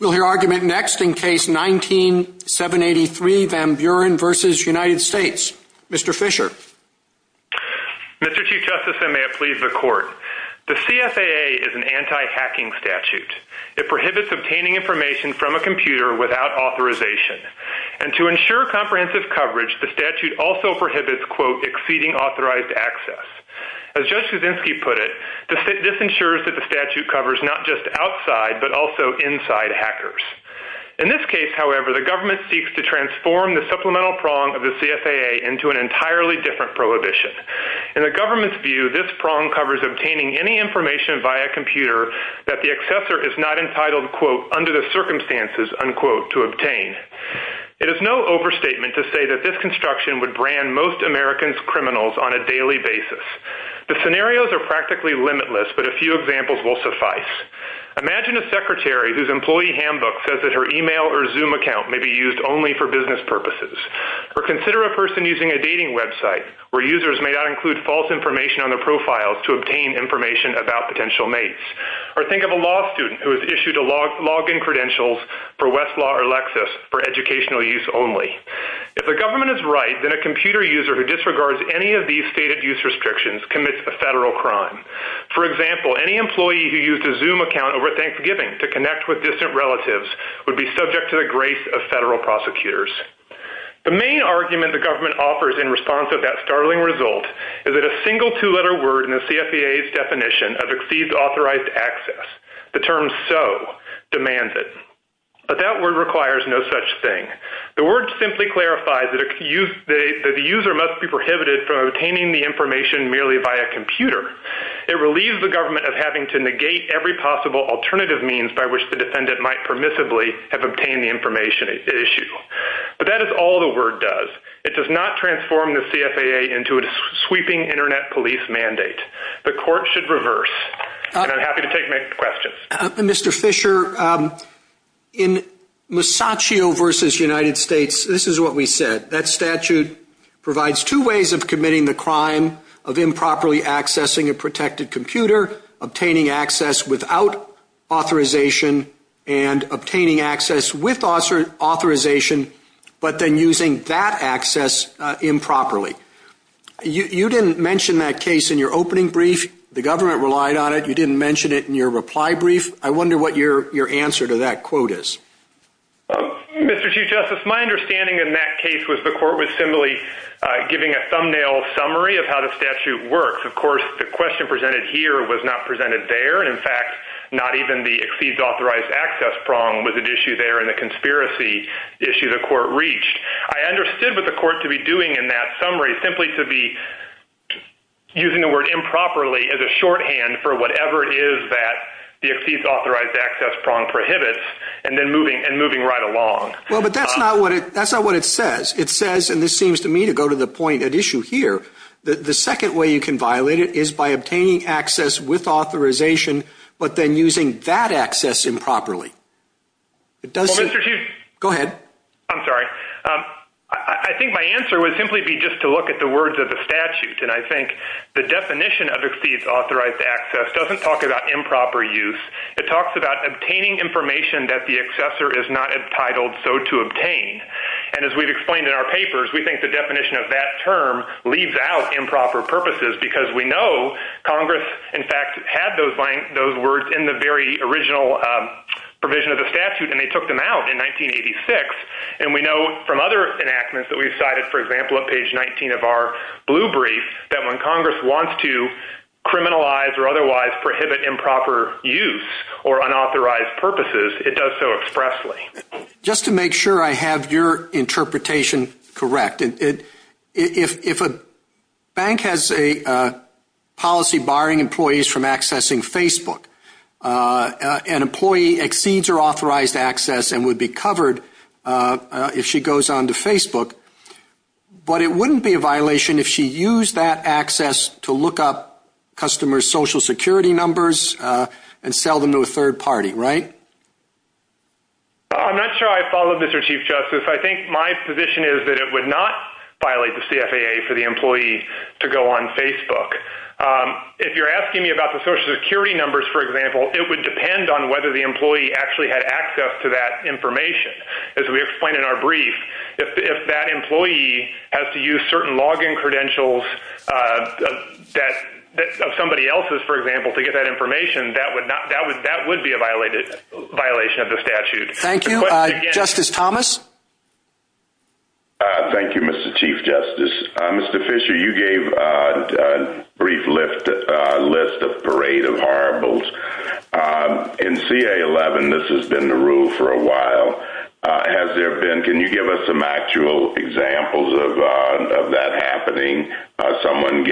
We'll hear argument next in Case 19-783, Van Buren v. United States. Mr. Fisher. Mr. Chief Justice, and may it please the Court, the CFAA is an anti-hacking statute. It prohibits obtaining information from a computer without authorization. And to ensure comprehensive coverage, the statute also prohibits, quote, exceeding authorized access. As Judge Kuczynski put it, this ensures that the statute covers not just outside but also inside hackers. In this case, however, the government seeks to transform the supplemental prong of the CFAA into an entirely different prohibition. In the government's view, this prong covers obtaining any information via computer that the accessor is not entitled, quote, under the circumstances, unquote, to obtain. It is no overstatement to say that this construction would brand most Americans criminals on a daily basis. The scenarios are practically limitless, but a few examples will suffice. Imagine a secretary whose employee handbook says that her email or Zoom account may be used only for business purposes. Or consider a person using a dating website where users may not include false information on their profiles to obtain information about potential mates. Or think of a law student who has issued a login credentials for Westlaw or Lexis for educational use only. If the government is right, then a computer user who disregards any of these stated use restrictions commits a federal crime. For example, any employee who used a Zoom account over Thanksgiving to connect with distant relatives would be subject to the grace of federal prosecutors. The main argument the government offers in response to that startling result is that a single two-letter word in the CFAA's definition of exceeds authorized access, the term so, demands it. But that word requires no such thing. The word simply clarifies that the user must be prohibited from obtaining the information merely via computer. It relieves the government of having to negate every possible alternative means by which the defendant might permissibly have obtained the information at issue. But that is all the word does. It does not transform the CFAA into a sweeping Internet police mandate. The court should reverse. And I'm happy to take any questions. Mr. Fisher, in Masaccio v. United States, this is what we said. That statute provides two ways of committing the crime of improperly accessing a protected computer, obtaining access without authorization, and obtaining access with authorization, but then using that access improperly. You didn't mention that case in your opening brief. The government relied on it. You didn't mention it in your reply brief. I wonder what your answer to that quote is. Mr. Chief Justice, my understanding in that case was the court was simply giving a thumbnail summary of how the statute works. Of course, the question presented here was not presented there. And, in fact, not even the exceeds authorized access prong was at issue there in the conspiracy issue the court reached. I understood what the court to be doing in that summary simply to be using the word improperly as a shorthand for whatever it is that the exceeds authorized access prong prohibits and then moving right along. Well, but that's not what it says. It says, and this seems to me to go to the point at issue here, the second way you can violate it is by obtaining access with authorization, but then using that access improperly. Well, Mr. Chief – Go ahead. I'm sorry. I think my answer would simply be just to look at the words of the statute. And I think the definition of exceeds authorized access doesn't talk about improper use. It talks about obtaining information that the accessor is not entitled so to obtain. And as we've explained in our papers, we think the definition of that term leaves out improper purposes because we know Congress, in fact, had those words in the very original provision of the statute, and they took them out in 1986. And we know from other enactments that we've cited, for example, on page 19 of our blue brief, that when Congress wants to criminalize or otherwise prohibit improper use or unauthorized purposes, it does so expressly. Just to make sure I have your interpretation correct, if a bank has a policy barring employees from accessing Facebook, an employee exceeds her authorized access and would be covered if she goes on to Facebook, but it wouldn't be a violation if she used that access to look up customers' Social Security numbers and sell them to a third party, right? I'm not sure I follow, Mr. Chief Justice. I think my position is that it would not violate the CFAA for the employee to go on Facebook. If you're asking me about the Social Security numbers, for example, it would depend on whether the employee actually had access to that information. As we explained in our brief, if that employee has to use certain login credentials of somebody else's, for example, to get that information, that would be a violation of the statute. Thank you. Justice Thomas? Thank you, Mr. Chief Justice. Mr. Fisher, you gave a brief list of parade of horribles. In CA-11, this has been the rule for a while. Can you give us some actual examples of that happening, someone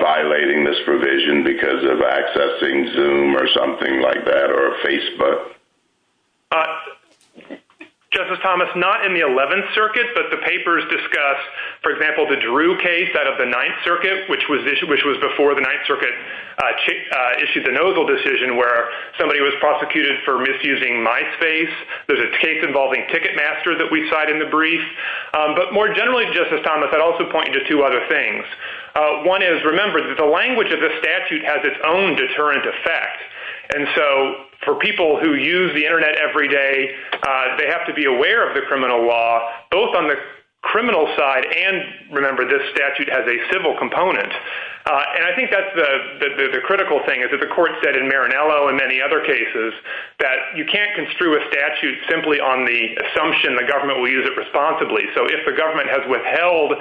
violating this provision because of accessing Zoom or something like that or Facebook? Justice Thomas, not in the 11th Circuit, but the papers discuss, for example, the Drew case out of the 9th Circuit, which was before the 9th Circuit issued the Nozzle decision where somebody was prosecuted for misusing MySpace. There's a case involving Ticketmaster that we cite in the brief. But more generally, Justice Thomas, I'd also point you to two other things. One is, remember, the language of this statute has its own deterrent effect. And so for people who use the Internet every day, they have to be aware of the criminal law, both on the criminal side and, remember, this statute has a civil component. And I think that's the critical thing is that the court said in Marinello and many other cases that you can't construe a statute simply on the assumption the government will use it responsibly. So if the government has withheld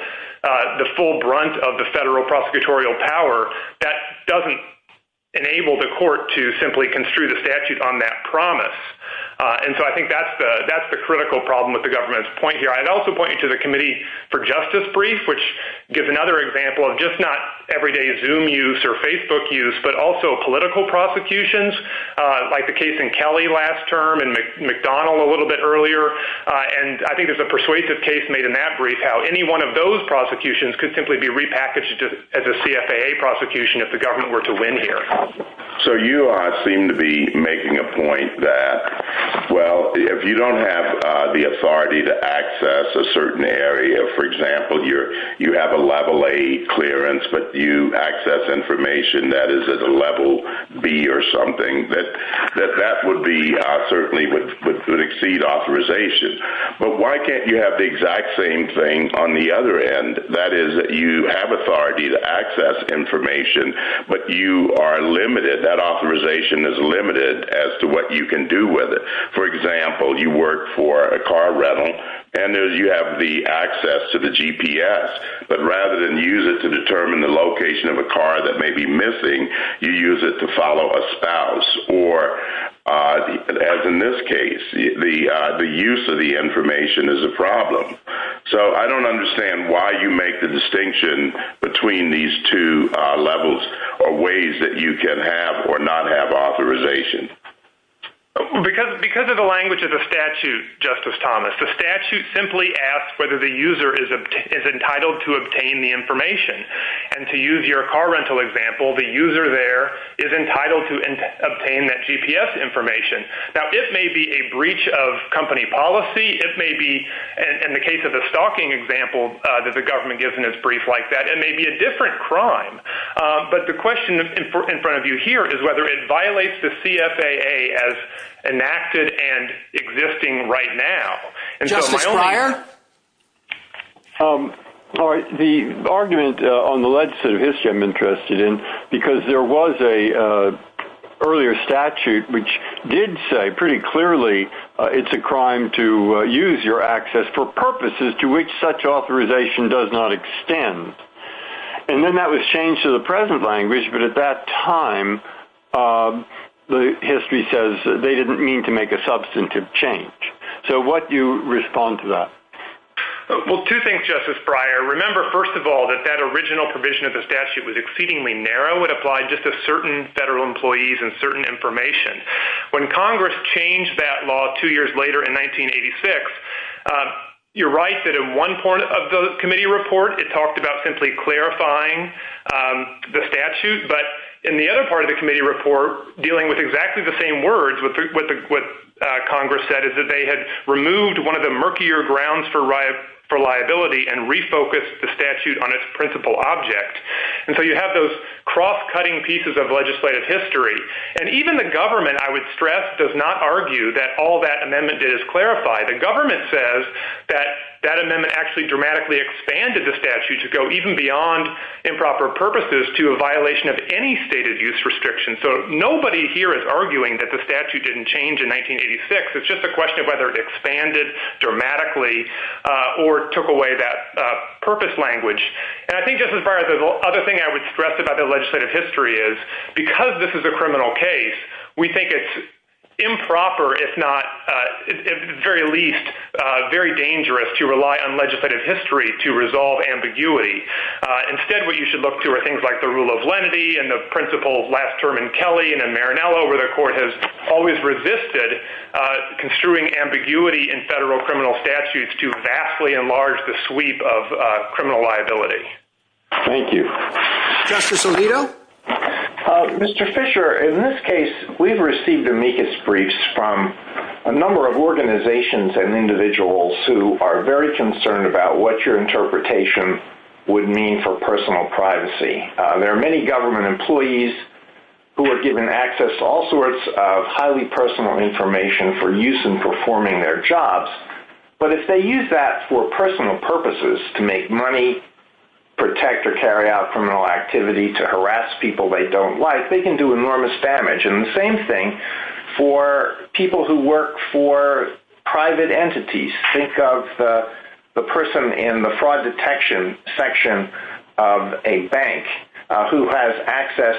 the full brunt of the federal prosecutorial power, that doesn't enable the court to simply construe the statute on that promise. And so I think that's the critical problem with the government's point here. I'd also point you to the Committee for Justice brief, which gives another example of just not everyday Zoom use or Facebook use, but also political prosecutions, like the case in Kelly last term and McDonnell a little bit earlier. And I think there's a persuasive case made in that brief how any one of those prosecutions could simply be repackaged as a CFAA prosecution if the government were to win here. So you seem to be making a point that, well, if you don't have the authority to access a certain area, for example, you have a Level A clearance, but you access information that is at a Level B or something, that that would be certainly would exceed authorization. But why can't you have the exact same thing on the other end? That is, you have authority to access information, but you are limited, that authorization is limited as to what you can do with it. For example, you work for a car rental, and you have the access to the GPS, but rather than use it to determine the location of a car that may be missing, you use it to follow a spouse or, as in this case, the use of the information is a problem. So I don't understand why you make the distinction between these two levels or ways that you can have or not have authorization. Because of the language of the statute, Justice Thomas. The statute simply asks whether the user is entitled to obtain the information. And to use your car rental example, the user there is entitled to obtain that GPS information. Now, it may be a breach of company policy. It may be, in the case of the stalking example that the government gives in its brief like that, it may be a different crime. But the question in front of you here is whether it violates the CFAA as enacted and existing right now. Justice Breyer? The argument on the legislative history I'm interested in, because there was an earlier statute which did say pretty clearly it's a crime to use your access for purposes to which such authorization does not extend. And then that was changed to the present language, but at that time, the history says they didn't mean to make a substantive change. So what do you respond to that? Well, two things, Justice Breyer. Remember, first of all, that that original provision of the statute was exceedingly narrow. It applied just to certain federal employees and certain information. When Congress changed that law two years later in 1986, you're right that in one part of the committee report, it talked about simply clarifying the statute. But in the other part of the committee report, dealing with exactly the same words, what Congress said is that they had removed one of the murkier grounds for liability and refocused the statute on its principal object. And so you have those cross-cutting pieces of legislative history. And even the government, I would stress, does not argue that all that amendment did is clarify. The government says that that amendment actually dramatically expanded the statute to go even beyond improper purposes to a violation of any stated use restriction. So nobody here is arguing that the statute didn't change in 1986. It's just a question of whether it expanded dramatically or took away that purpose language. And I think, Justice Breyer, the other thing I would stress about the legislative history is, because this is a criminal case, we think it's improper, if not, at the very least, very dangerous to rely on legislative history to resolve ambiguity. Instead, what you should look to are things like the rule of lenity and the principles last term in Kelly and in Marinello, where the court has always resisted construing ambiguity in federal criminal statutes to vastly enlarge the sweep of criminal liability. Thank you. Justice Alito? Mr. Fisher, in this case, we've received amicus briefs from a number of organizations and individuals who are very concerned about what your interpretation would mean for personal privacy. There are many government employees who are given access to all sorts of highly personal information for use in performing their jobs. But if they use that for personal purposes, to make money, protect or carry out criminal activity, to harass people they don't like, they can do enormous damage. And the same thing for people who work for private entities. Think of the person in the fraud detection section of a bank who has access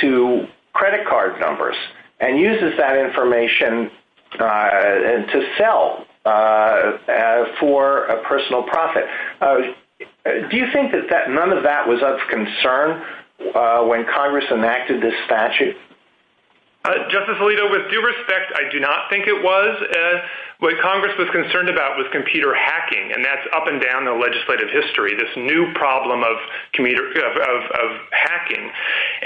to credit card numbers and uses that information to sell for a personal profit. Do you think that none of that was of concern when Congress enacted this statute? Justice Alito, with due respect, I do not think it was. What Congress was concerned about was computer hacking, and that's up and down the legislative history, this new problem of hacking.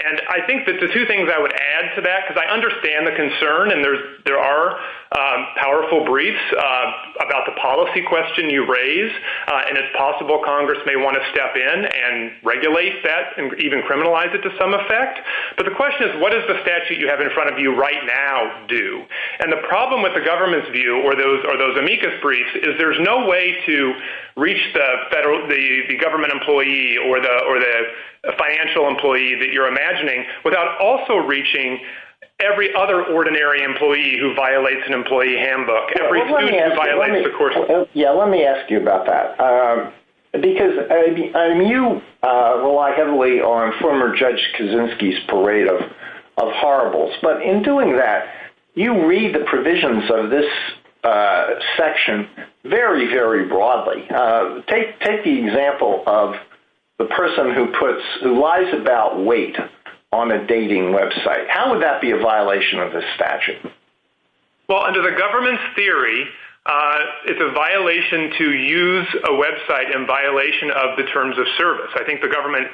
And I think that the two things I would add to that, because I understand the concern, and there are powerful briefs about the policy question you raise. And it's possible Congress may want to step in and regulate that and even criminalize it to some effect. But the question is, what does the statute you have in front of you right now do? And the problem with the government's view, or those amicus briefs, is there's no way to reach the government employee or the financial employee that you're imagining without also reaching every other ordinary employee who violates an employee handbook. Every student who violates the coursework. Yeah, let me ask you about that. Because you rely heavily on former Judge Kaczynski's parade of horribles, but in doing that, you read the provisions of this section very, very broadly. Take the example of the person who lies about weight on a dating website. How would that be a violation of this statute? Well, under the government's theory, it's a violation to use a website in violation of the terms of service. I think the government...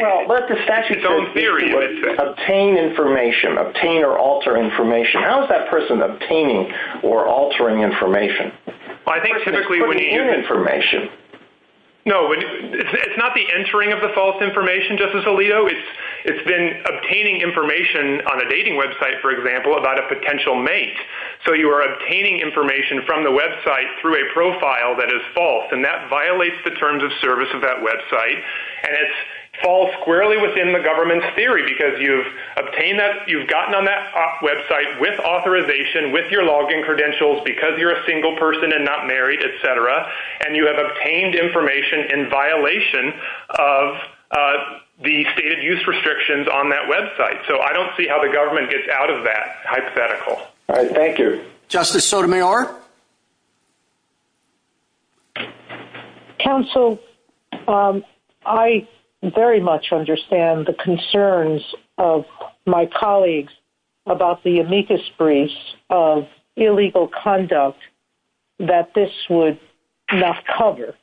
Well, but the statute says obtain information, obtain or alter information. How is that person obtaining or altering information? Well, I think typically when... The person is putting in information. No, it's not the entering of the false information, Justice Alito. It's been obtaining information on a dating website, for example, about a potential mate. So you are obtaining information from the website through a profile that is false. And that violates the terms of service of that website. And it falls squarely within the government's theory because you've obtained that... ...because you're a single person and not married, et cetera. And you have obtained information in violation of the stated use restrictions on that website. So I don't see how the government gets out of that hypothetical. All right. Thank you. Justice Sotomayor? Counsel, I very much understand the concerns of my colleagues about the amicus briefs of illegal conduct that this would not cover,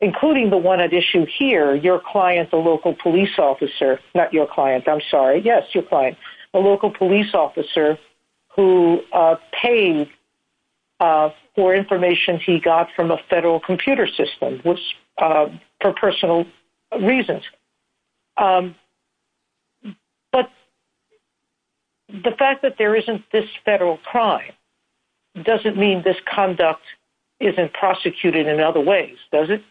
including the one at issue here, your client, the local police officer. Not your client. I'm sorry. Yes, your client. A local police officer who paid for information he got from a federal computer system for personal reasons. But the fact that there isn't this federal crime doesn't mean this conduct isn't prosecuted in other ways, does it?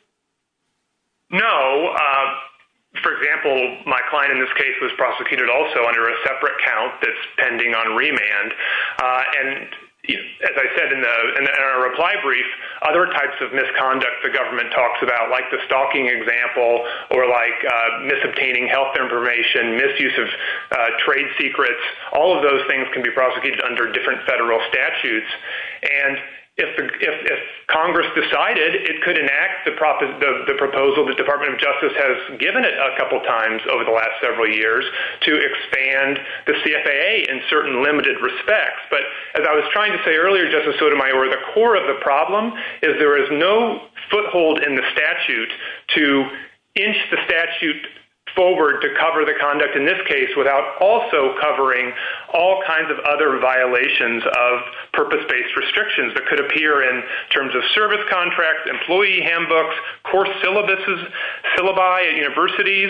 No. For example, my client in this case was prosecuted also under a separate count that's pending on remand. And as I said in our reply brief, other types of misconduct the government talks about, like the stalking example or like misobtaining health information, misuse of trade secrets, all of those things can be prosecuted under different federal statutes. And if Congress decided it could enact the proposal, the Department of Justice has given it a couple times over the last several years to expand the CFAA in certain limited respects. But as I was trying to say earlier, Justice Sotomayor, the core of the problem is there is no foothold in the statute to inch the statute forward to cover the conduct in this case without also covering all kinds of other violations of purpose-based restrictions that could appear in terms of service contracts, employee handbooks, course syllabuses, syllabi at universities,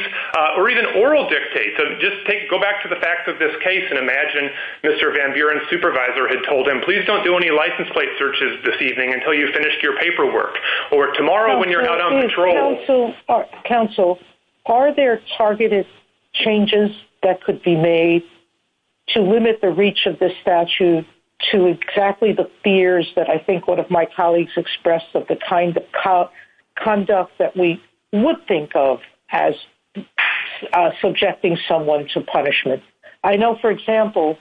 or even oral dictates. So just go back to the facts of this case and imagine Mr. Van Buren's supervisor had told him, please don't do any license plate searches this evening until you've finished your paperwork, or tomorrow when you're not on patrol. Counsel, are there targeted changes that could be made to limit the reach of this statute to exactly the fears that I think one of my colleagues expressed of the kind of conduct that we would think of as subjecting someone to punishment? I know, for example,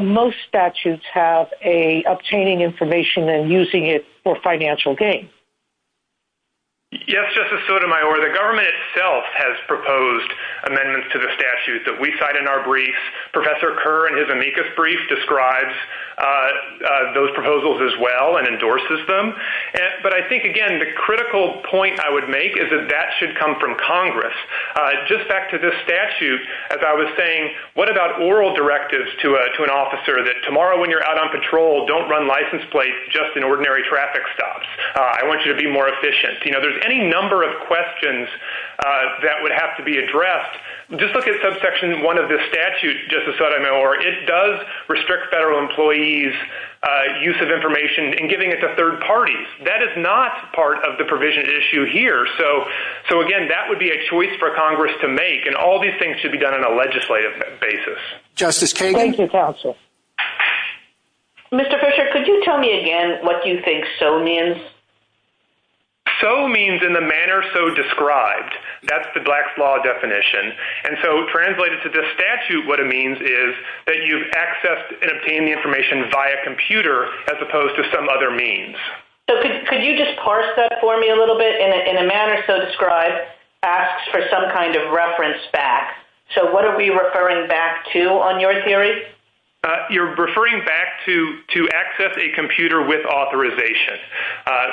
most statutes have an obtaining information and using it for financial gain. Yes, Justice Sotomayor. The government itself has proposed amendments to the statute that we cite in our briefs. Professor Kerr, in his amicus brief, describes those proposals as well and endorses them. But I think, again, the critical point I would make is that that should come from Congress. Just back to this statute, as I was saying, what about oral directives to an officer that tomorrow when you're out on patrol, don't run license plates, just in ordinary traffic stops? I want you to be more efficient. There's any number of questions that would have to be addressed. Just look at subsection 1 of this statute, Justice Sotomayor. It does restrict federal employees' use of information and giving it to third parties. That is not part of the provision issue here. So, again, that would be a choice for Congress to make, and all these things should be done on a legislative basis. Justice Kagan? Thank you, Counsel. Mr. Fisher, could you tell me again what you think so means? So means in the manner so described. That's the Black's Law definition. And so translated to this statute, what it means is that you've accessed and obtained the information via computer as opposed to some other means. So could you just parse that for me a little bit? In a manner so described asks for some kind of reference back. So what are we referring back to on your theory? You're referring back to access a computer with authorization.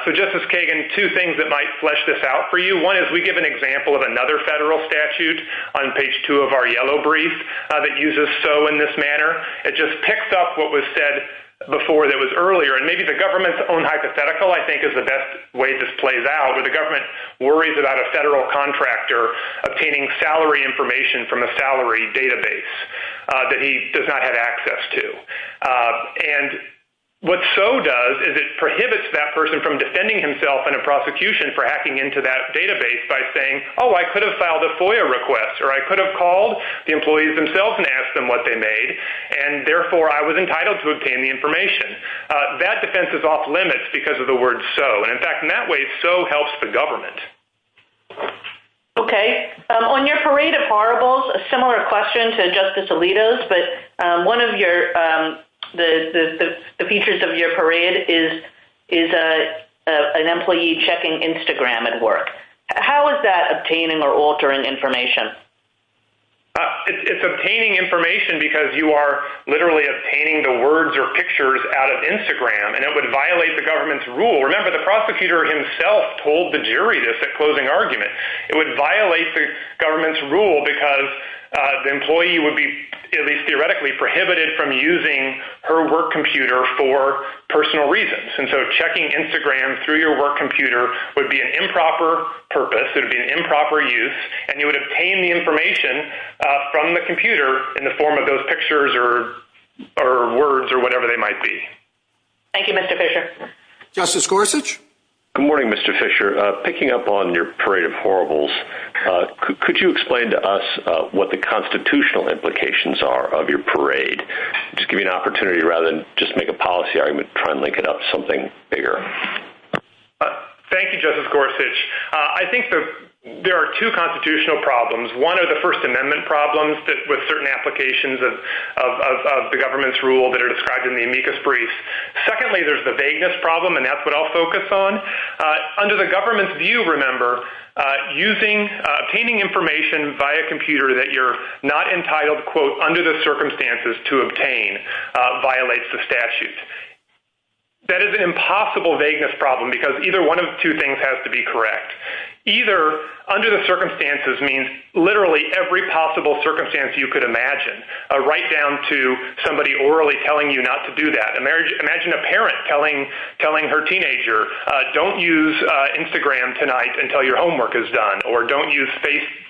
So, Justice Kagan, two things that might flesh this out for you. One is we give an example of another federal statute on page 2 of our yellow brief that uses so in this manner. It just picks up what was said before that was earlier. And maybe the government's own hypothetical, I think, is the best way this plays out, where the government worries about a federal contractor obtaining salary information from a salary database that he does not have access to. And what so does is it prohibits that person from defending himself in a prosecution for hacking into that database by saying, oh, I could have filed a FOIA request or I could have called the employees themselves and asked them what they made, and therefore I was entitled to obtain the information. That defense is off limits because of the word so. And, in fact, in that way so helps the government. Okay. On your parade of horribles, a similar question to Justice Alito's, but one of the features of your parade is an employee checking Instagram at work. How is that obtaining or altering information? It's obtaining information because you are literally obtaining the words or pictures out of Instagram, and it would violate the government's rule. Remember, the prosecutor himself told the jury this at closing argument. It would violate the government's rule because the employee would be, at least theoretically, prohibited from using her work computer for personal reasons. And so checking Instagram through your work computer would be an improper purpose. It would be an improper use. And you would obtain the information from the computer in the form of those pictures or words or whatever they might be. Thank you, Mr. Fisher. Okay. Justice Gorsuch. Good morning, Mr. Fisher. Picking up on your parade of horribles, could you explain to us what the constitutional implications are of your parade? Just give me an opportunity, rather than just make a policy argument, try and link it up to something bigger. Thank you, Justice Gorsuch. I think there are two constitutional problems. One are the First Amendment problems with certain applications of the government's rule that are described in the amicus brief. Secondly, there's the vagueness problem, and that's what I'll focus on. Under the government's view, remember, obtaining information via computer that you're not entitled, quote, under the circumstances to obtain violates the statute. That is an impossible vagueness problem because either one of the two things has to be correct. Either under the circumstances means literally every possible circumstance you could imagine, right down to somebody orally telling you not to do that. Imagine a parent telling her teenager, don't use Instagram tonight until your homework is done, or don't use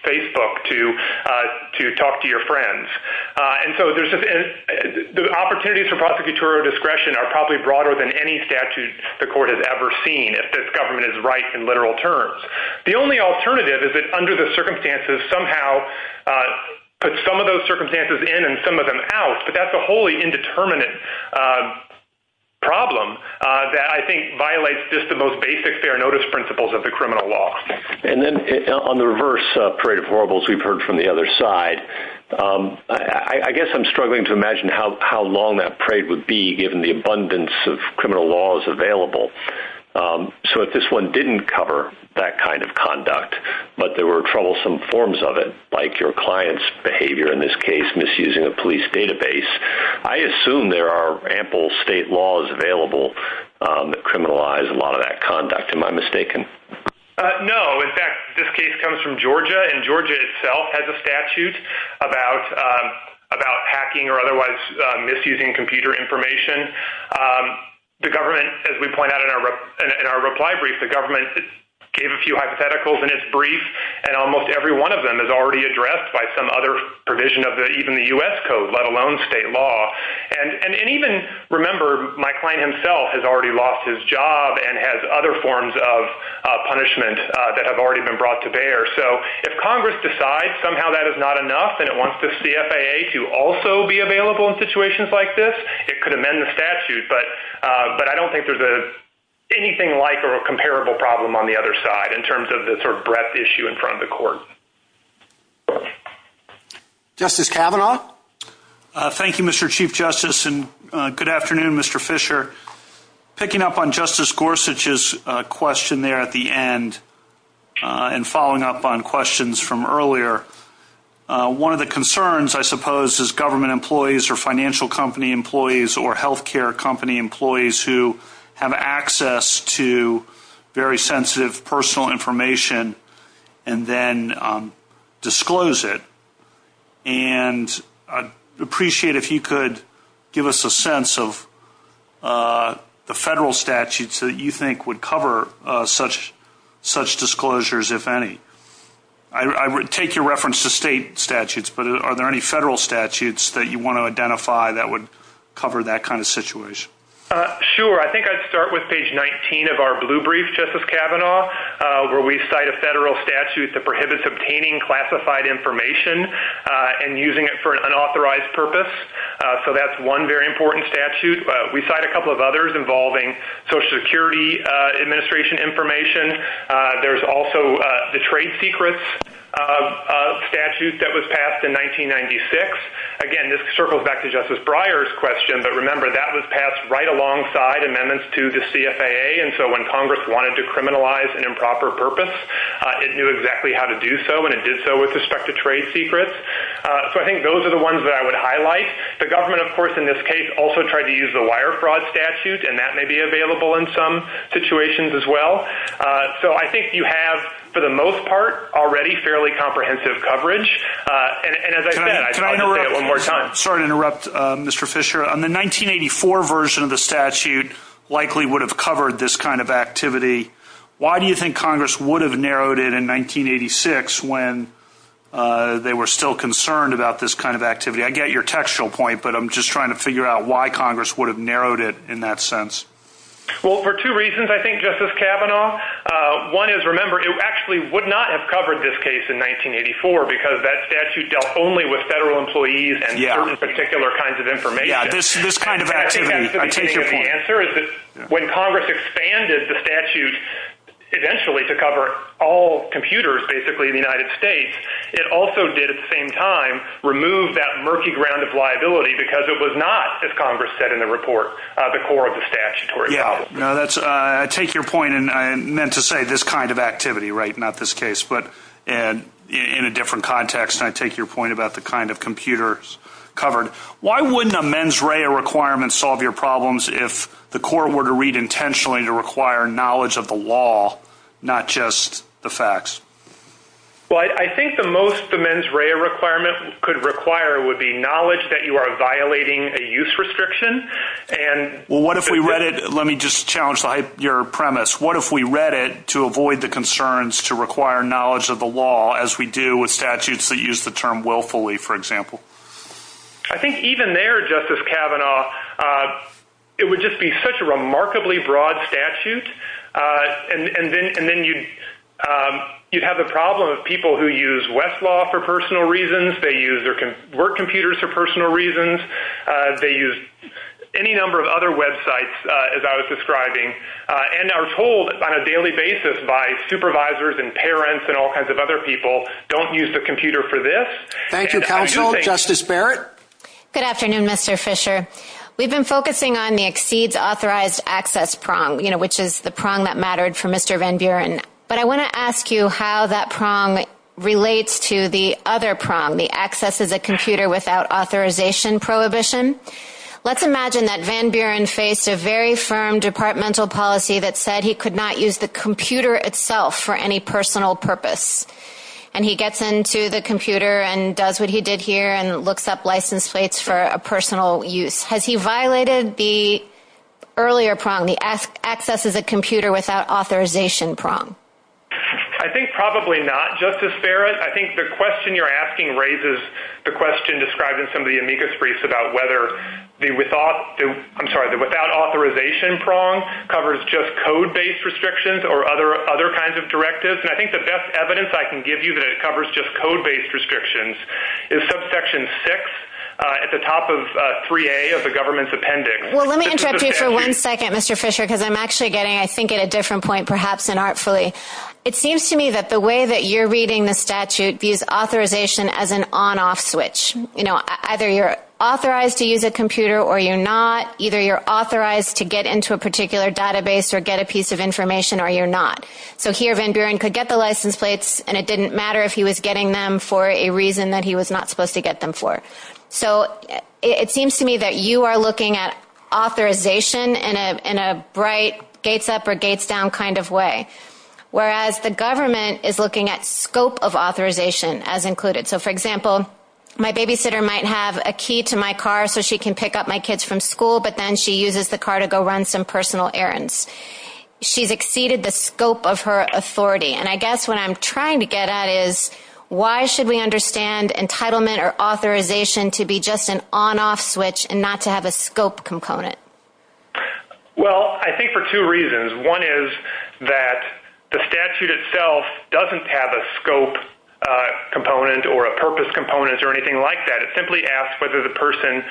Facebook to talk to your friends. And so the opportunities for prosecutorial discretion are probably broader than any statute the court has ever seen, if this government is right in literal terms. The only alternative is that under the circumstances somehow put some of those circumstances in and some of them out, but that's a wholly indeterminate problem that I think violates just the most basic fair notice principles of the criminal law. And then on the reverse parade of horribles we've heard from the other side, I guess I'm struggling to imagine how long that parade would be given the abundance of criminal laws available. So if this one didn't cover that kind of conduct, but there were troublesome forms of it, like your client's behavior in this case misusing a police database, I assume there are ample state laws available that criminalize a lot of that conduct. Am I mistaken? No. In fact, this case comes from Georgia, and Georgia itself has a statute about hacking or otherwise misusing computer information. The government, as we point out in our reply brief, the government gave a few hypotheticals in its brief, and almost every one of them is already addressed by some other provision of even the U.S. code, let alone state law. And even remember, my client himself has already lost his job and has other forms of punishment that have already been brought to bear. So if Congress decides somehow that is not enough and it wants the CFAA to also be available in situations like this, it could amend the statute. But I don't think there's anything like or a comparable problem on the other side in terms of the sort of breadth issue in front of the court. Justice Kavanaugh? Thank you, Mr. Chief Justice, and good afternoon, Mr. Fisher. Picking up on Justice Gorsuch's question there at the end and following up on questions from earlier, one of the concerns, I suppose, is government employees or financial company employees or health care company employees who have access to very sensitive personal information and then disclose it. And I'd appreciate if you could give us a sense of the federal statutes that you think would cover such disclosures, if any. I take your reference to state statutes, but are there any federal statutes that you want to identify that would cover that kind of situation? Sure. I think I'd start with page 19 of our blue brief, Justice Kavanaugh, where we cite a federal statute that prohibits obtaining classified information and using it for an unauthorized purpose. So that's one very important statute. We cite a couple of others involving Social Security Administration information. There's also the Trade Secrets Statute that was passed in 1996. Again, this circles back to Justice Breyer's question, but remember that was passed right alongside amendments to the CFAA, and so when Congress wanted to criminalize an improper purpose, it knew exactly how to do so, and it did so with respect to trade secrets. So I think those are the ones that I would highlight. The government, of course, in this case, also tried to use the Wire Fraud Statute, and that may be available in some situations as well. So I think you have, for the most part, already fairly comprehensive coverage. And as I said, I'd like to say it one more time. Sorry to interrupt, Mr. Fisher. The 1984 version of the statute likely would have covered this kind of activity. Why do you think Congress would have narrowed it in 1986 when they were still concerned about this kind of activity? I get your textual point, but I'm just trying to figure out why Congress would have narrowed it in that sense. Well, for two reasons, I think, Justice Kavanaugh. One is, remember, it actually would not have covered this case in 1984 because that statute dealt only with federal employees and certain particular kinds of information. Yeah, this kind of activity. I take your point. The answer is that when Congress expanded the statute eventually to cover all computers, basically, in the United States, it also did, at the same time, remove that murky ground of liability because it was not, as Congress said in the report, the core of the statutory problem. I take your point. And I meant to say this kind of activity, right, not this case, but in a different context. And I take your point about the kind of computers covered. Why wouldn't a mens rea requirement solve your problems if the court were to read intentionally to require knowledge of the law, not just the facts? Well, I think the most the mens rea requirement could require would be knowledge that you are violating a use restriction. Well, what if we read it? Let me just challenge your premise. What if we read it to avoid the concerns to require knowledge of the law as we do with statutes that use the term willfully, for example? I think even there, Justice Kavanaugh, it would just be such a remarkably broad statute. And then you'd have the problem of people who use Westlaw for personal reasons. They use their work computers for personal reasons. They use any number of other websites, as I was describing, and are told on a daily basis by supervisors and parents and all kinds of other people, don't use the computer for this. Thank you, counsel. Justice Barrett? Good afternoon, Mr. Fisher. We've been focusing on the exceeds authorized access prong, which is the prong that mattered for Mr. Van Buren. But I want to ask you how that prong relates to the other prong, the access is a computer without authorization prohibition. Let's imagine that Van Buren faced a very firm departmental policy that said he could not use the computer itself for any personal purpose. And he gets into the computer and does what he did here and looks up license plates for a personal use. Has he violated the earlier prong, the access is a computer without authorization prong? I think probably not. Justice Barrett, I think the question you're asking raises the question described in some of the amicus briefs about whether the without authorization prong covers just code-based restrictions or other kinds of directives. And I think the best evidence I can give you that it covers just code-based restrictions is subsection 6 at the top of 3A of the government's appendix. Well, let me interrupt you for one second, Mr. Fisher, because I'm actually getting, I think, at a different point, perhaps inartfully. It seems to me that the way that you're reading the statute views authorization as an on-off switch. You know, either you're authorized to use a computer or you're not. Either you're authorized to get into a particular database or get a piece of information or you're not. So he or Van Buren could get the license plates and it didn't matter if he was getting them for a reason that he was not supposed to get them for. So it seems to me that you are looking at authorization in a bright gates up or gates down kind of way, whereas the government is looking at scope of authorization as included. So, for example, my babysitter might have a key to my car so she can pick up my kids from school, but then she uses the car to go run some personal errands. She's exceeded the scope of her authority. And I guess what I'm trying to get at is why should we understand entitlement or authorization to be just an on-off switch and not to have a scope component? Well, I think for two reasons. One is that the statute itself doesn't have a scope component or a purpose component or anything like that. It simply asks whether the person,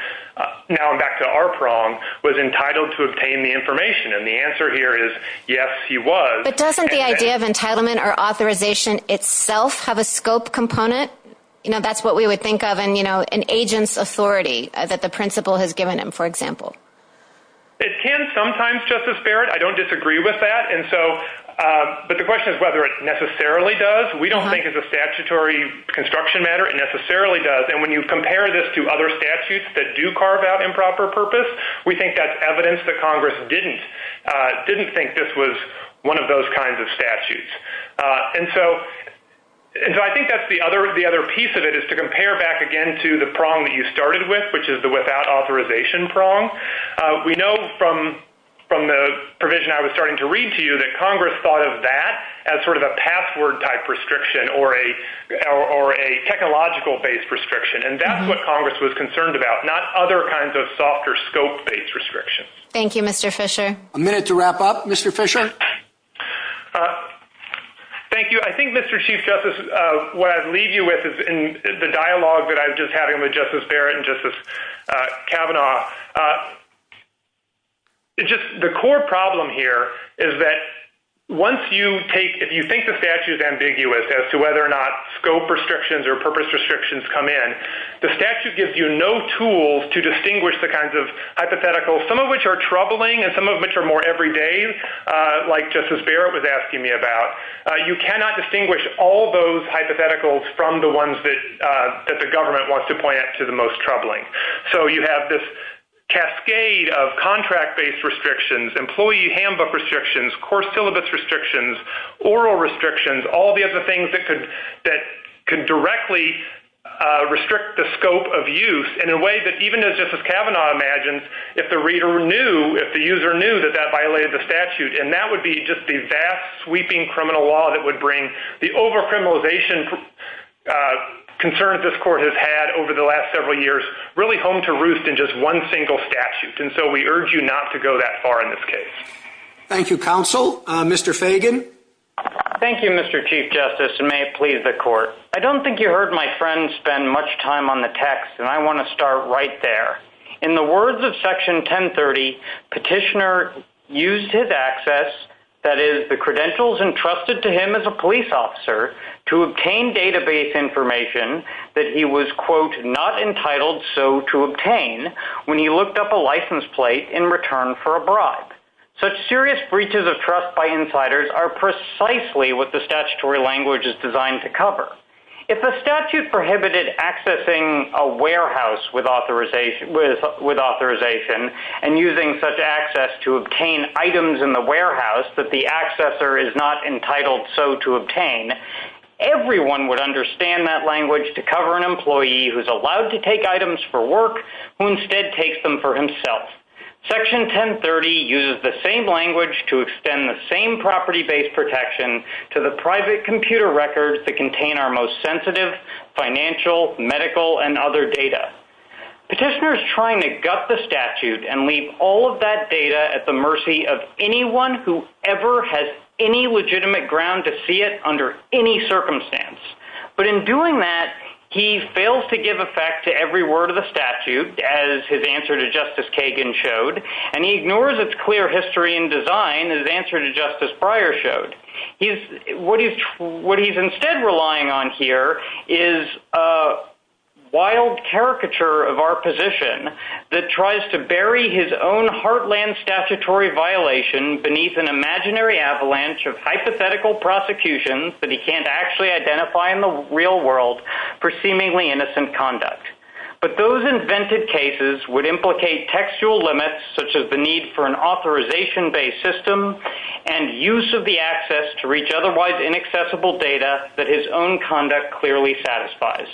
now back to our prong, was entitled to obtain the information. And the answer here is yes, he was. But doesn't the idea of entitlement or authorization itself have a scope component? That's what we would think of in an agent's authority that the principal has given him, for example. It can sometimes, Justice Barrett. I don't disagree with that. But the question is whether it necessarily does. We don't think it's a statutory construction matter. It necessarily does. And when you compare this to other statutes that do carve out improper purpose, we think that's evidence that Congress didn't think this was one of those kinds of statutes. And so I think that's the other piece of it is to compare back again to the prong that you started with, which is the without authorization prong. We know from the provision I was starting to read to you that Congress thought of that as sort of a password-type restriction or a technological-based restriction. And that's what Congress was concerned about, not other kinds of softer scope-based restrictions. Thank you, Mr. Fisher. A minute to wrap up, Mr. Fisher. Thank you. I think, Mr. Chief Justice, what I'd leave you with is the dialogue that I was just having with Justice Barrett and Justice Kavanaugh. The core problem here is that once you take – if you think the statute is ambiguous as to whether or not scope restrictions or purpose restrictions come in, the statute gives you no tools to distinguish the kinds of hypotheticals, some of which are troubling and some of which are more everyday, like Justice Barrett was asking me about. You cannot distinguish all those hypotheticals from the ones that the government wants to point out to the most troubling. So you have this cascade of contract-based restrictions, employee handbook restrictions, course syllabus restrictions, oral restrictions, all the other things that could directly restrict the scope of use in a way that, even as Justice Kavanaugh imagined, if the reader knew, if the user knew, that that violated the statute. And that would be just the vast, sweeping criminal law that would bring the over-criminalization concerns that this court has had over the last several years really home to roost in just one single statute. And so we urge you not to go that far in this case. Thank you, counsel. Mr. Fagan. Thank you, Mr. Chief Justice, and may it please the court. I don't think you heard my friend spend much time on the text, and I want to start right there. In the words of Section 1030, petitioner used his access, that is, the credentials entrusted to him as a police officer to obtain database information that he was, quote, not entitled so to obtain when he looked up a license plate in return for a bribe. Such serious breaches of trust by insiders are precisely what the statutory language is designed to cover. If the statute prohibited accessing a warehouse with authorization and using such access to obtain items in the warehouse that the accessor is not entitled so to obtain, everyone would understand that language to cover an employee who is allowed to take items for work who instead takes them for himself. Section 1030 uses the same language to extend the same property-based protection to the private computer records that contain our most sensitive financial, medical, and other data. Petitioner is trying to gut the statute and leave all of that data at the mercy of anyone who ever has any legitimate ground to see it under any circumstance. But in doing that, he fails to give effect to every word of the statute, as his answer to Justice Kagan showed, and he ignores its clear history and design, as his answer to Justice Breyer showed. What he's instead relying on here is a wild caricature of our position that tries to bury his own heartland statutory violation beneath an imaginary avalanche of hypothetical prosecutions that he can't actually identify in the real world for seemingly innocent conduct. But those invented cases would implicate textual limits such as the need for an authorization-based system and use of the access to reach otherwise inaccessible data that his own conduct clearly satisfies.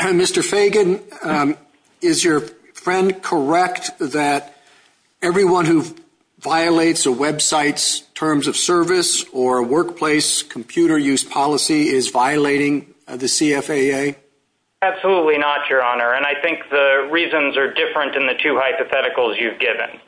Mr. Fagan, is your friend correct that everyone who violates a website's terms of service or workplace computer use policy is violating the CFAA? Absolutely not, Your Honor, and I think the reasons are different in the two hypotheticals you've given.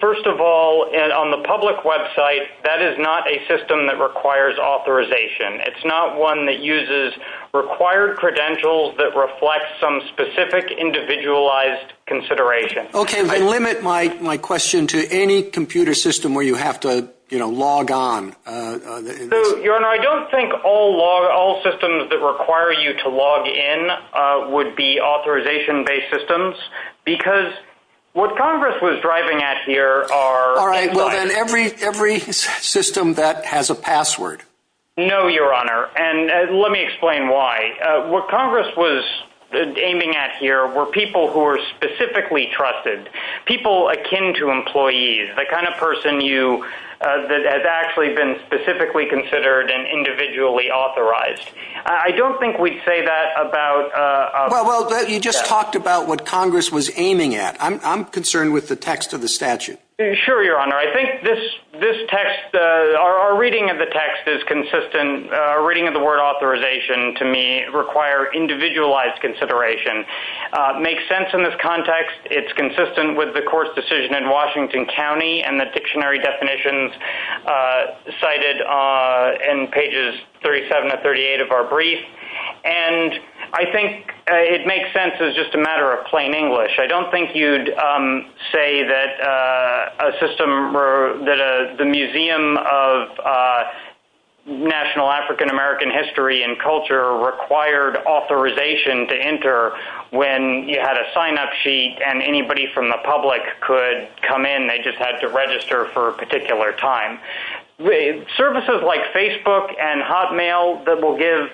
First of all, on the public website, that is not a system that requires authorization. It's not one that uses required credentials that reflect some specific individualized consideration. Okay, I limit my question to any computer system where you have to log on. Your Honor, I don't think all systems that require you to log in would be authorization-based systems because what Congress was driving at here are— All right, well, then every system that has a password. No, Your Honor, and let me explain why. What Congress was aiming at here were people who were specifically trusted, people akin to employees, the kind of person you—that has actually been specifically considered and individually authorized. I don't think we'd say that about— Well, you just talked about what Congress was aiming at. I'm concerned with the text of the statute. Sure, Your Honor. I think this text—our reading of the text is consistent. Our reading of the word authorization, to me, requires individualized consideration. It makes sense in this context. It's consistent with the court's decision in Washington County and the dictionary definitions cited in pages 37 to 38 of our brief. I think it makes sense as just a matter of plain English. I don't think you'd say that a system—that the Museum of National African American History and Culture required authorization to enter when you had a sign-up sheet and anybody from the public could come in. They just had to register for a particular time. Services like Facebook and Hotmail that will give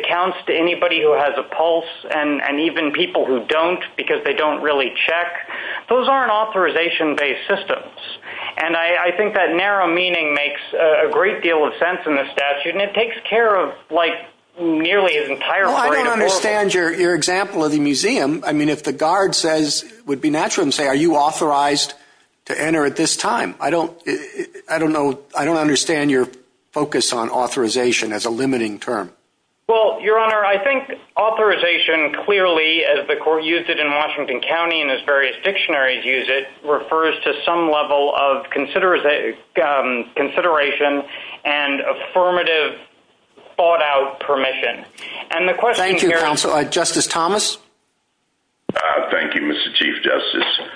accounts to anybody who has a pulse and even people who don't because they don't really check, those aren't authorization-based systems. And I think that narrow meaning makes a great deal of sense in the statute, and it takes care of, like, nearly an entire party to force it. Well, I don't understand your example of the museum. I mean, if the guard says—would be natural to say, are you authorized to enter at this time? I don't know—I don't understand your focus on authorization as a limiting term. Well, Your Honor, I think authorization clearly, as the court used it in Washington County and as various dictionaries use it, refers to some level of consideration and affirmative, thought-out permission. And the question— Thank you, Counsel. Justice Thomas? Thank you, Mr. Chief Justice.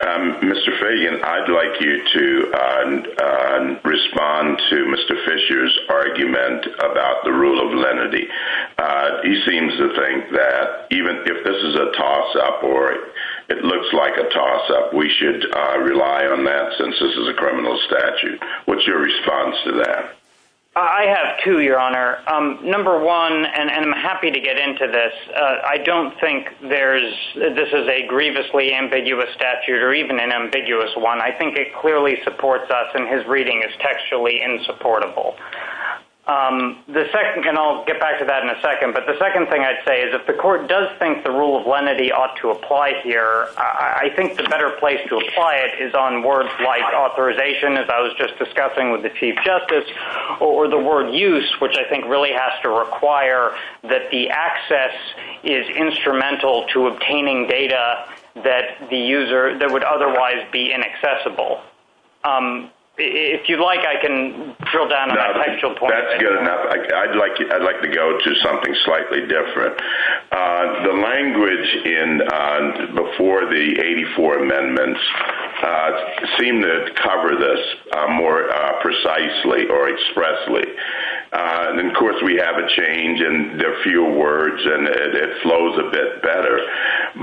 Mr. Fagan, I'd like you to respond to Mr. Fisher's argument about the rule of lenity. He seems to think that even if this is a toss-up or it looks like a toss-up, we should rely on that since this is a criminal statute. What's your response to that? I have two, Your Honor. Number one—and I'm happy to get into this. I don't think this is a grievously ambiguous statute or even an ambiguous one. I think it clearly supports us, and his reading is textually insupportable. And I'll get back to that in a second. But the second thing I'd say is if the court does think the rule of lenity ought to apply here, I think the better place to apply it is on words like authorization, as I was just discussing with the Chief Justice, or the word use, which I think really has to require that the access is instrumental to obtaining data that the user— that would otherwise be inaccessible. If you'd like, I can drill down on that textual point. That's good enough. I'd like to go to something slightly different. The language before the 84 amendments seemed to cover this more precisely or expressly. And, of course, we have a change, and there are fewer words, and it flows a bit better.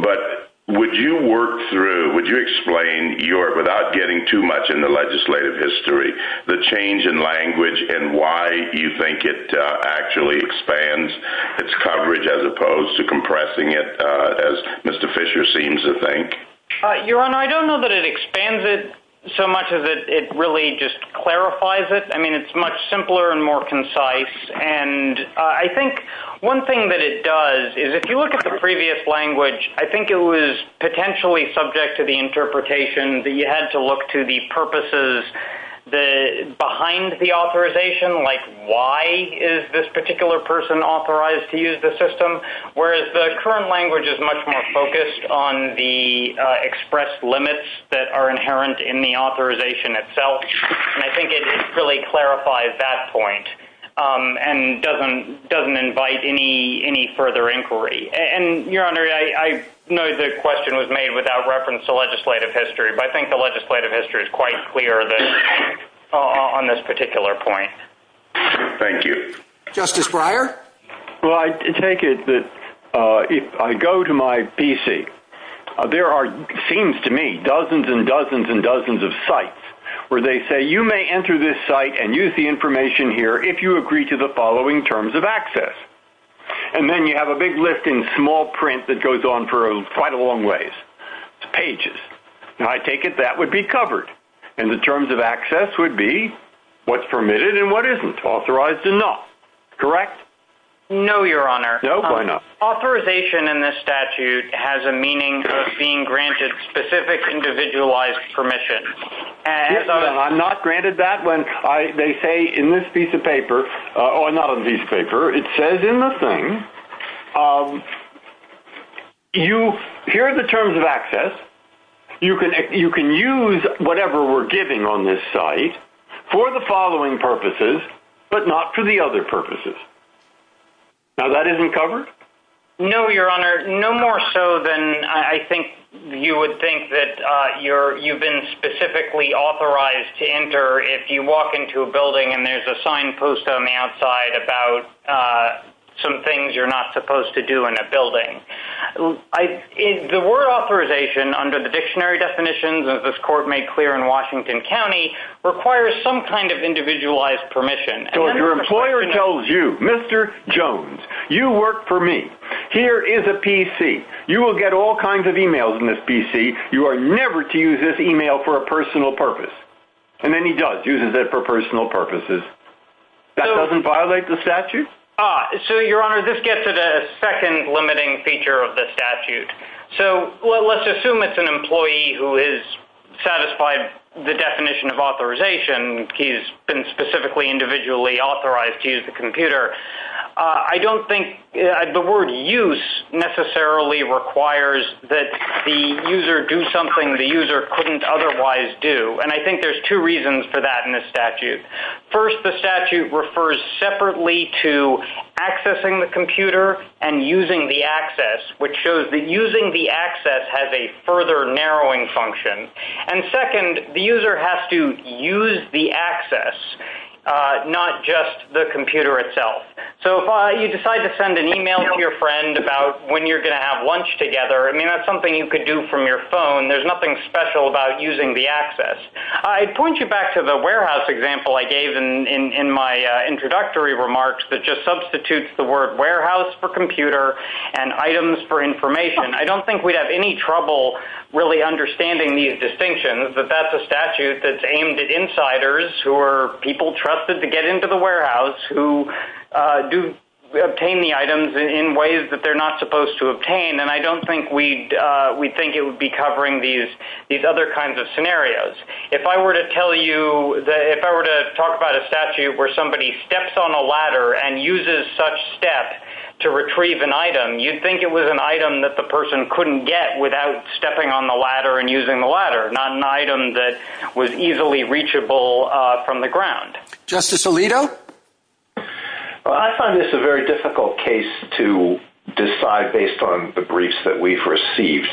But would you work through—would you explain your—without getting too much into legislative history— the change in language and why you think it actually expands its coverage as opposed to compressing it, as Mr. Fisher seems to think? Your Honor, I don't know that it expands it so much as it really just clarifies it. I mean, it's much simpler and more concise. And I think one thing that it does is if you look at the previous language, I think it was potentially subject to the interpretation that you had to look to the purposes, the—behind the authorization, like why is this particular person authorized to use the system, whereas the current language is much more focused on the expressed limits that are inherent in the authorization itself. And I think it really clarifies that point and doesn't invite any further inquiry. And, Your Honor, I know the question was made without reference to legislative history, but I think the legislative history is quite clear on this particular point. Thank you. Justice Breyer? Well, I take it that if I go to my PC, there are, it seems to me, dozens and dozens and dozens of sites where they say you may enter this site and use the information here if you agree to the following terms of access. And then you have a big list in small print that goes on for quite a long ways. It's pages. And I take it that would be covered. And the terms of access would be what's permitted and what isn't, authorized and not. Correct? No, Your Honor. No? Why not? Authorization in this statute has a meaning of being granted specific individualized permission. Yes, but I'm not granted that when they say in this piece of paper, or not in this piece of paper, it says in the thing, here are the terms of access. You can use whatever we're giving on this site for the following purposes, but not for the other purposes. Now, that isn't covered? No, Your Honor, no more so than I think you would think that you've been specifically authorized to enter if you walk into a building and there's a sign post on the outside about some things you're not supposed to do in a building. The word authorization under the dictionary definitions, as this court made clear in Washington County, requires some kind of individualized permission. Your employer tells you, Mr. Jones, you work for me. Here is a PC. You will get all kinds of emails in this PC. You are never to use this email for a personal purpose. And then he does, uses it for personal purposes. That doesn't violate the statute? So, Your Honor, this gets at a second limiting feature of the statute. So, let's assume it's an employee who has satisfied the definition of authorization. He's been specifically individually authorized to use the computer. I don't think the word use necessarily requires that the user do something the user couldn't otherwise do. And I think there's two reasons for that in this statute. First, the statute refers separately to accessing the computer and using the access, which shows that using the access has a further narrowing function. And second, the user has to use the access, not just the computer itself. So, if you decide to send an email to your friend about when you're going to have lunch together, I mean, that's something you could do from your phone. There's nothing special about using the access. I'd point you back to the warehouse example I gave in my introductory remarks that just substitutes the word warehouse for computer and items for information. I don't think we'd have any trouble really understanding these distinctions, but that's a statute that's aimed at insiders who are people trusted to get into the warehouse, who do obtain the items in ways that they're not supposed to obtain, and I don't think we'd think it would be covering these other kinds of scenarios. If I were to tell you that if I were to talk about a statute where somebody steps on a ladder and uses such step to retrieve an item, you'd think it was an item that the person couldn't get without stepping on the ladder and using the ladder, not an item that was easily reachable from the ground. Justice Alito? Well, I find this a very difficult case to decide based on the briefs that we've received.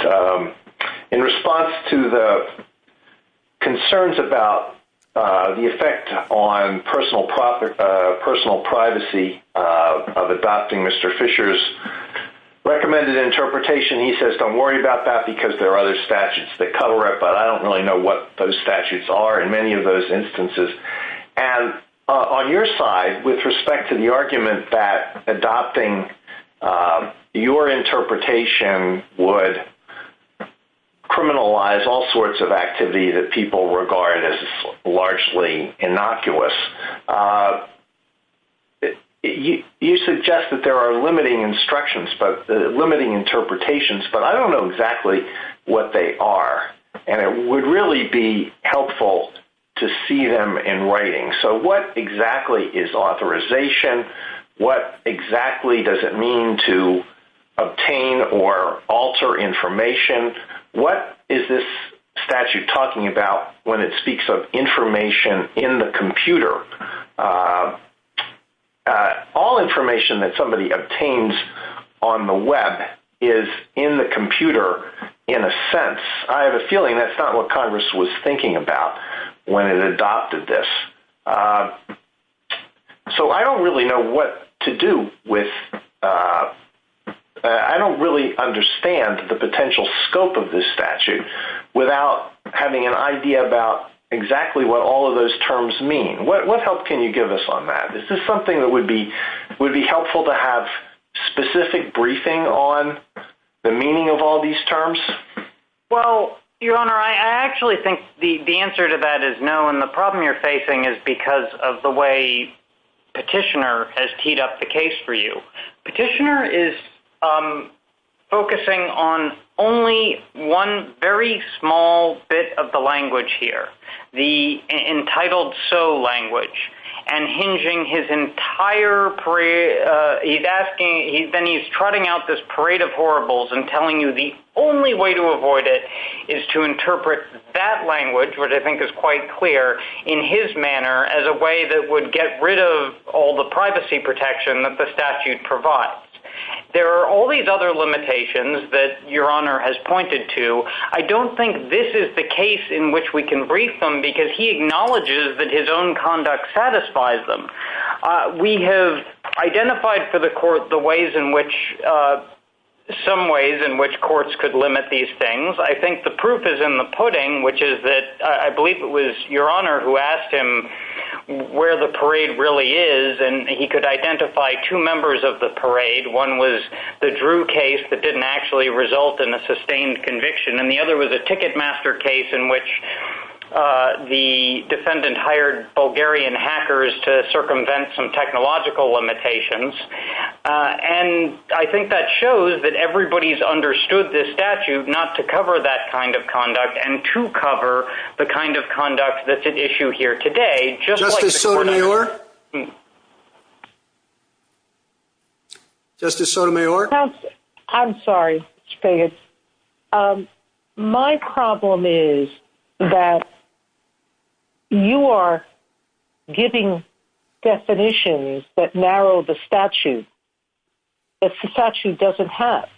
In response to the concerns about the effect on personal privacy of adopting Mr. Fisher's recommended interpretation, he says don't worry about that because there are other statutes that cover it, but I don't really know what those statutes are in many of those instances. On your side, with respect to the argument that adopting your interpretation would criminalize all sorts of activity that people regard as largely innocuous, you suggest that there are limiting instructions, limiting interpretations, but I don't know exactly what they are, and it would really be helpful to see them in writing. So what exactly is authorization? What exactly does it mean to obtain or alter information? What is this statute talking about when it speaks of information in the computer? All information that somebody obtains on the web is in the computer in a sense. I have a feeling that's not what Congress was thinking about when it adopted this. So I don't really know what to do with—I don't really understand the potential scope of this statute without having an idea about exactly what all of those terms mean. What help can you give us on that? Is this something that would be helpful to have specific briefing on the meaning of all these terms? Well, Your Honor, I actually think the answer to that is no, and the problem you're facing is because of the way Petitioner has teed up the case for you. Petitioner is focusing on only one very small bit of the language here, the entitled-so language, and then he's trotting out this parade of horribles and telling you the only way to avoid it is to interpret that language, which I think is quite clear, in his manner as a way that would get rid of all the privacy protection that the statute provides. There are all these other limitations that Your Honor has pointed to. I don't think this is the case in which we can brief them because he acknowledges that his own conduct satisfies them. We have identified for the court the ways in which—some ways in which courts could limit these things. I think the proof is in the pudding, which is that I believe it was Your Honor who asked him where the parade really is, and he could identify two members of the parade. One was the Drew case that didn't actually result in a sustained conviction, and the other was a Ticketmaster case in which the defendant hired Bulgarian hackers to circumvent some technological limitations. And I think that shows that everybody's understood this statute not to cover that kind of conduct and to cover the kind of conduct that's at issue here today. Justice Sotomayor? Justice Sotomayor? I'm sorry, Mr. Payette. My problem is that you are giving definitions that narrow the statute that the statute doesn't have.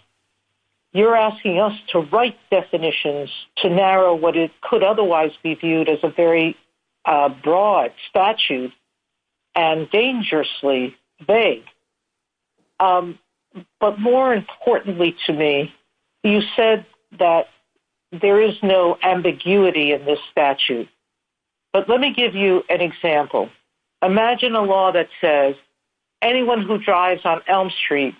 You're asking us to write definitions to narrow what could otherwise be viewed as a very broad statute and dangerously vague. But more importantly to me, you said that there is no ambiguity in this statute. But let me give you an example. Imagine a law that says anyone who drives on Elm Street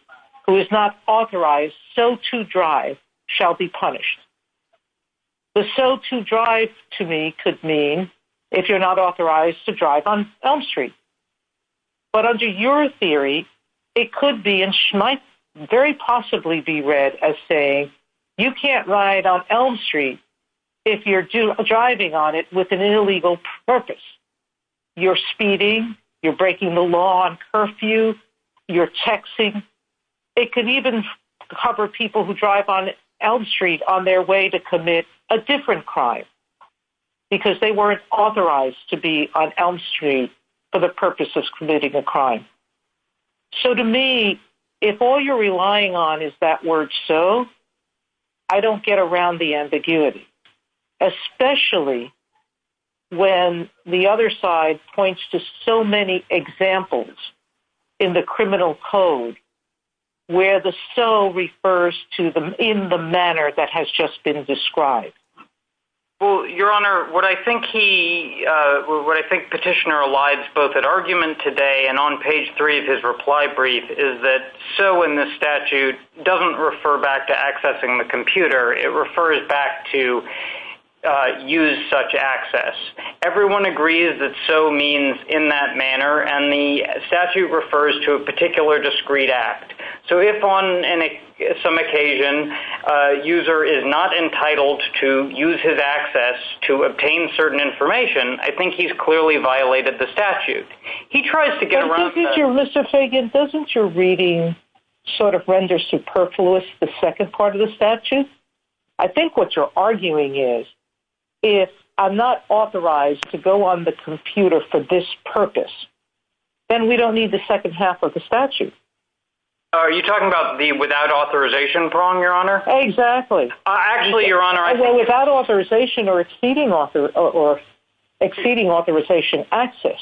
who is not authorized so to drive shall be punished. The so to drive to me could mean if you're not authorized to drive on Elm Street. But under your theory, it could be and might very possibly be read as saying you can't ride on Elm Street if you're driving on it with an illegal purpose. You're speeding. You're breaking the law on curfew. You're texting. It could even cover people who drive on Elm Street on their way to commit a different crime because they weren't authorized to be on Elm Street for the purpose of committing a crime. So to me, if all you're relying on is that word so, I don't get around the ambiguity. Especially when the other side points to so many examples in the criminal code where the so refers to them in the manner that has just been described. Your Honor, what I think Petitioner elides both at argument today and on page three of his reply brief is that so in this statute doesn't refer back to accessing the computer. It refers back to use such access. Everyone agrees that so means in that manner, and the statute refers to a particular discreet act. So if on some occasion a user is not entitled to use his access to obtain certain information, I think he's clearly violated the statute. He tries to get around. Mr. Fagan, doesn't your reading sort of render superfluous the second part of the statute? I think what you're arguing is if I'm not authorized to go on the computer for this purpose, then we don't need the second half of the statute. Are you talking about the without authorization prong, Your Honor? Exactly. Actually, Your Honor, I think... Without authorization or exceeding authorization access.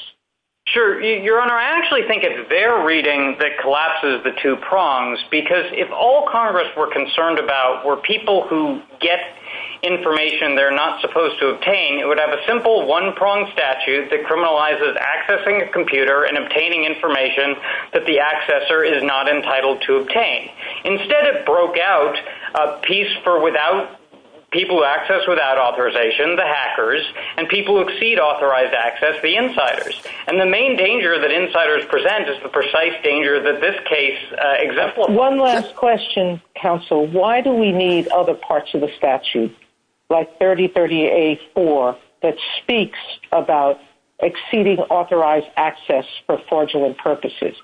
Sure. Your Honor, I actually think it's their reading that collapses the two prongs, because if all Congress were concerned about were people who get information they're not supposed to obtain, it would have a simple one-prong statute that criminalizes accessing a computer and obtaining information that the accessor is not entitled to obtain. Instead, it broke out a piece for people who access without authorization, the hackers, and people who exceed authorized access, the insiders. And the main danger that insiders present is the precise danger that this case exemplifies. One last question, counsel. Why do we need other parts of the statute, like 3030A4, that speaks about exceeding authorized access for fraudulent purposes?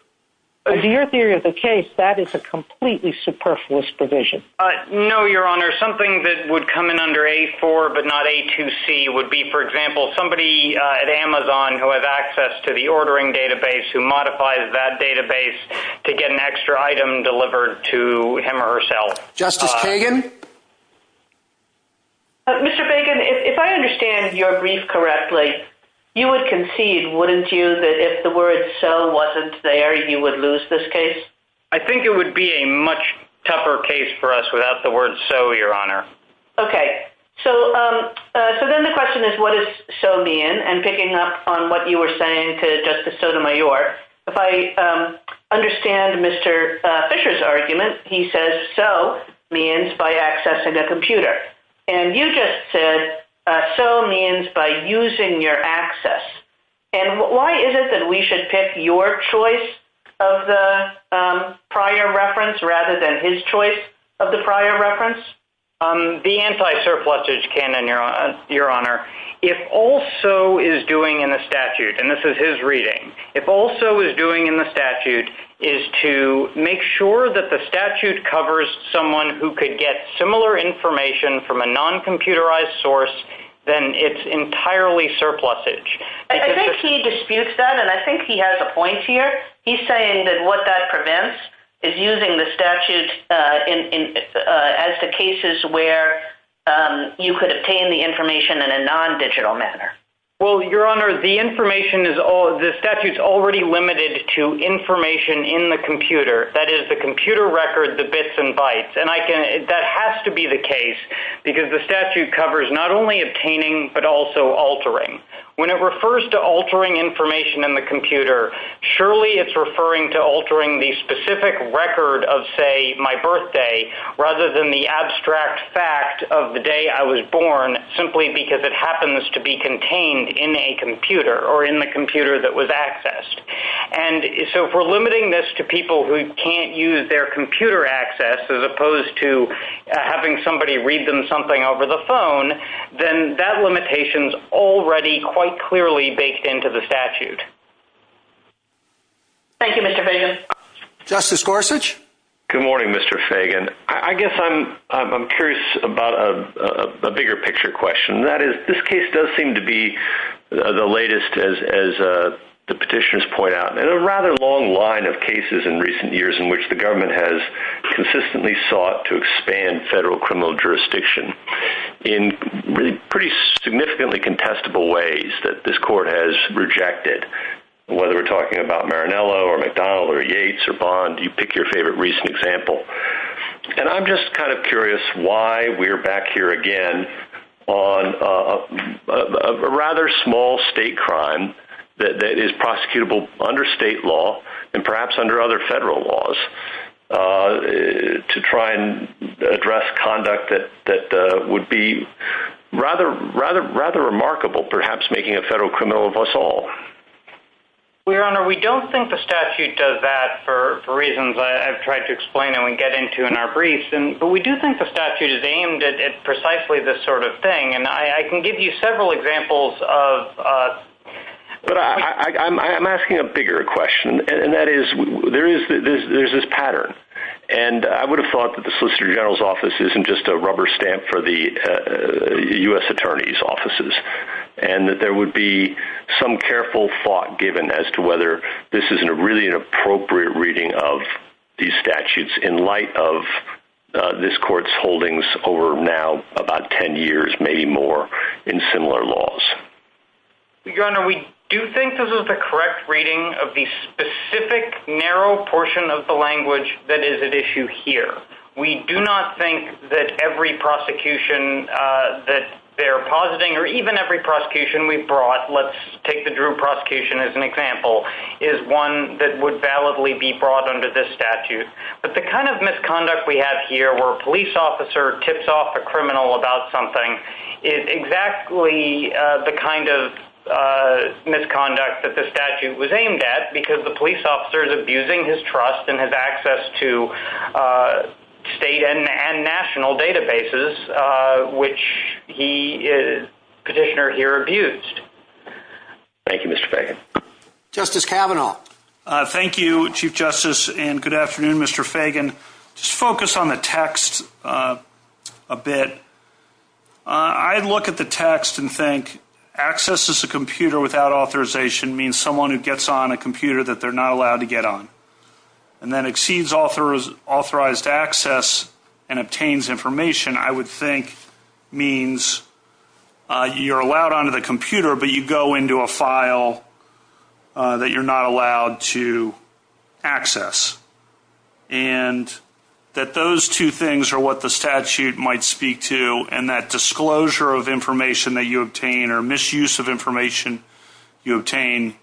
In your theory of the case, that is a completely superfluous provision. No, Your Honor. Something that would come in under A4, but not A2C, would be, for example, somebody at Amazon who has access to the ordering database, who modifies that database to get an extra item delivered to him or herself. Justice Kagan? Mr. Bagan, if I understand your brief correctly, you would concede, wouldn't you, that if the word so wasn't there, you would lose this case? I think it would be a much tougher case for us without the word so, Your Honor. Okay. So then the question is, what does so mean? And picking up on what you were saying to Justice Sotomayor, if I understand Mr. Fisher's argument, he says so means by accessing a computer. And you just said so means by using your access. And why is it that we should pick your choice of the prior reference rather than his choice of the prior reference? The anti-surplusage canon, Your Honor, if all so is doing in the statute, and this is his reading, if all so is doing in the statute is to make sure that the statute covers someone who could get similar information from a non-computerized source, then it's entirely surplusage. I think he disputes that, and I think he has a point here. He's saying that what that prevents is using the statute as the cases where you could obtain the information in a non-digital manner. Well, Your Honor, the statute's already limited to information in the computer. That is, the computer records the bits and bytes. And that has to be the case because the statute covers not only obtaining but also altering. When it refers to altering information in the computer, surely it's referring to altering the specific record of, say, my birthday, rather than the abstract fact of the day I was born, simply because it happens to be contained in a computer or in the computer that was accessed. So if we're limiting this to people who can't use their computer access as opposed to having somebody read them something over the phone, then that limitation's already quite clearly baked into the statute. Thank you, Mr. Fagan. Justice Gorsuch? Good morning, Mr. Fagan. I guess I'm curious about a bigger-picture question. This case does seem to be the latest, as the petitioners point out, in a rather long line of cases in recent years in which the government has consistently sought to expand federal criminal jurisdiction in pretty significantly contestable ways that this court has rejected. Whether we're talking about Marinello or McDonald or Yates or Bond, you pick your favorite recent example. And I'm just kind of curious why we're back here again on a rather small state crime that is prosecutable under state law and perhaps under other federal laws to try and address conduct that would be rather remarkable, perhaps making a federal criminal of us all. Your Honor, we don't think the statute does that for reasons I've tried to explain and we get into in our briefs, but we do think the statute is aimed at precisely this sort of thing. And I can give you several examples of... But I'm asking a bigger question, and that is there is this pattern. And I would have thought that the Solicitor General's office isn't just a rubber stamp for the U.S. Attorney's offices and that there would be some careful thought given as to whether this is really an appropriate reading of these statutes in light of this court's holdings over now about 10 years, maybe more, in similar laws. Your Honor, we do think this is the correct reading of the specific narrow portion of the language that is at issue here. We do not think that every prosecution that they're positing or even every prosecution we've brought, let's take the Drew prosecution as an example, is one that would validly be brought under this statute. But the kind of misconduct we have here where a police officer tips off a criminal about something is exactly the kind of misconduct that the statute was aimed at because the police officer is abusing his trust and his access to state and national databases, which Petitioner here abused. Thank you, Mr. Fagan. Justice Kavanaugh. Thank you, Chief Justice, and good afternoon, Mr. Fagan. Just focus on the text a bit. I look at the text and think access to a computer without authorization means someone who gets on a computer that they're not allowed to get on and then exceeds authorized access and obtains information, I would think, means you're allowed onto the computer but you go into a file that you're not allowed to access. And that those two things are what the statute might speak to, and that disclosure of information that you obtain or misuse of information you obtain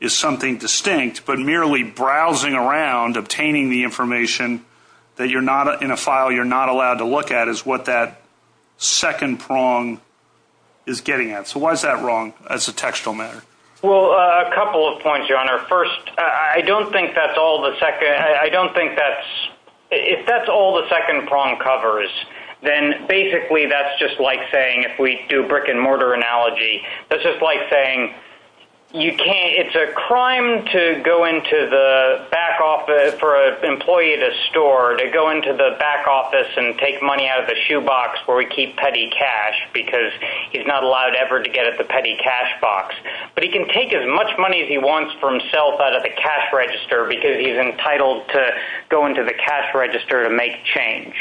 is something distinct. But merely browsing around, obtaining the information that you're not in a file you're not allowed to look at is what that second prong is getting at. So why is that wrong as a textual matter? Well, a couple of points, Your Honor. First, I don't think that's all the second – I don't think that's – if that's all the second prong covers, then basically that's just like saying if we do a brick-and-mortar analogy, that's just like saying you can't – it's a crime to go into the back office for an employee at a store, to go into the back office and take money out of the shoebox where we keep petty cash because he's not allowed ever to get at the petty cash box. But he can take as much money as he wants for himself out of the cash register because he's entitled to go into the cash register to make change.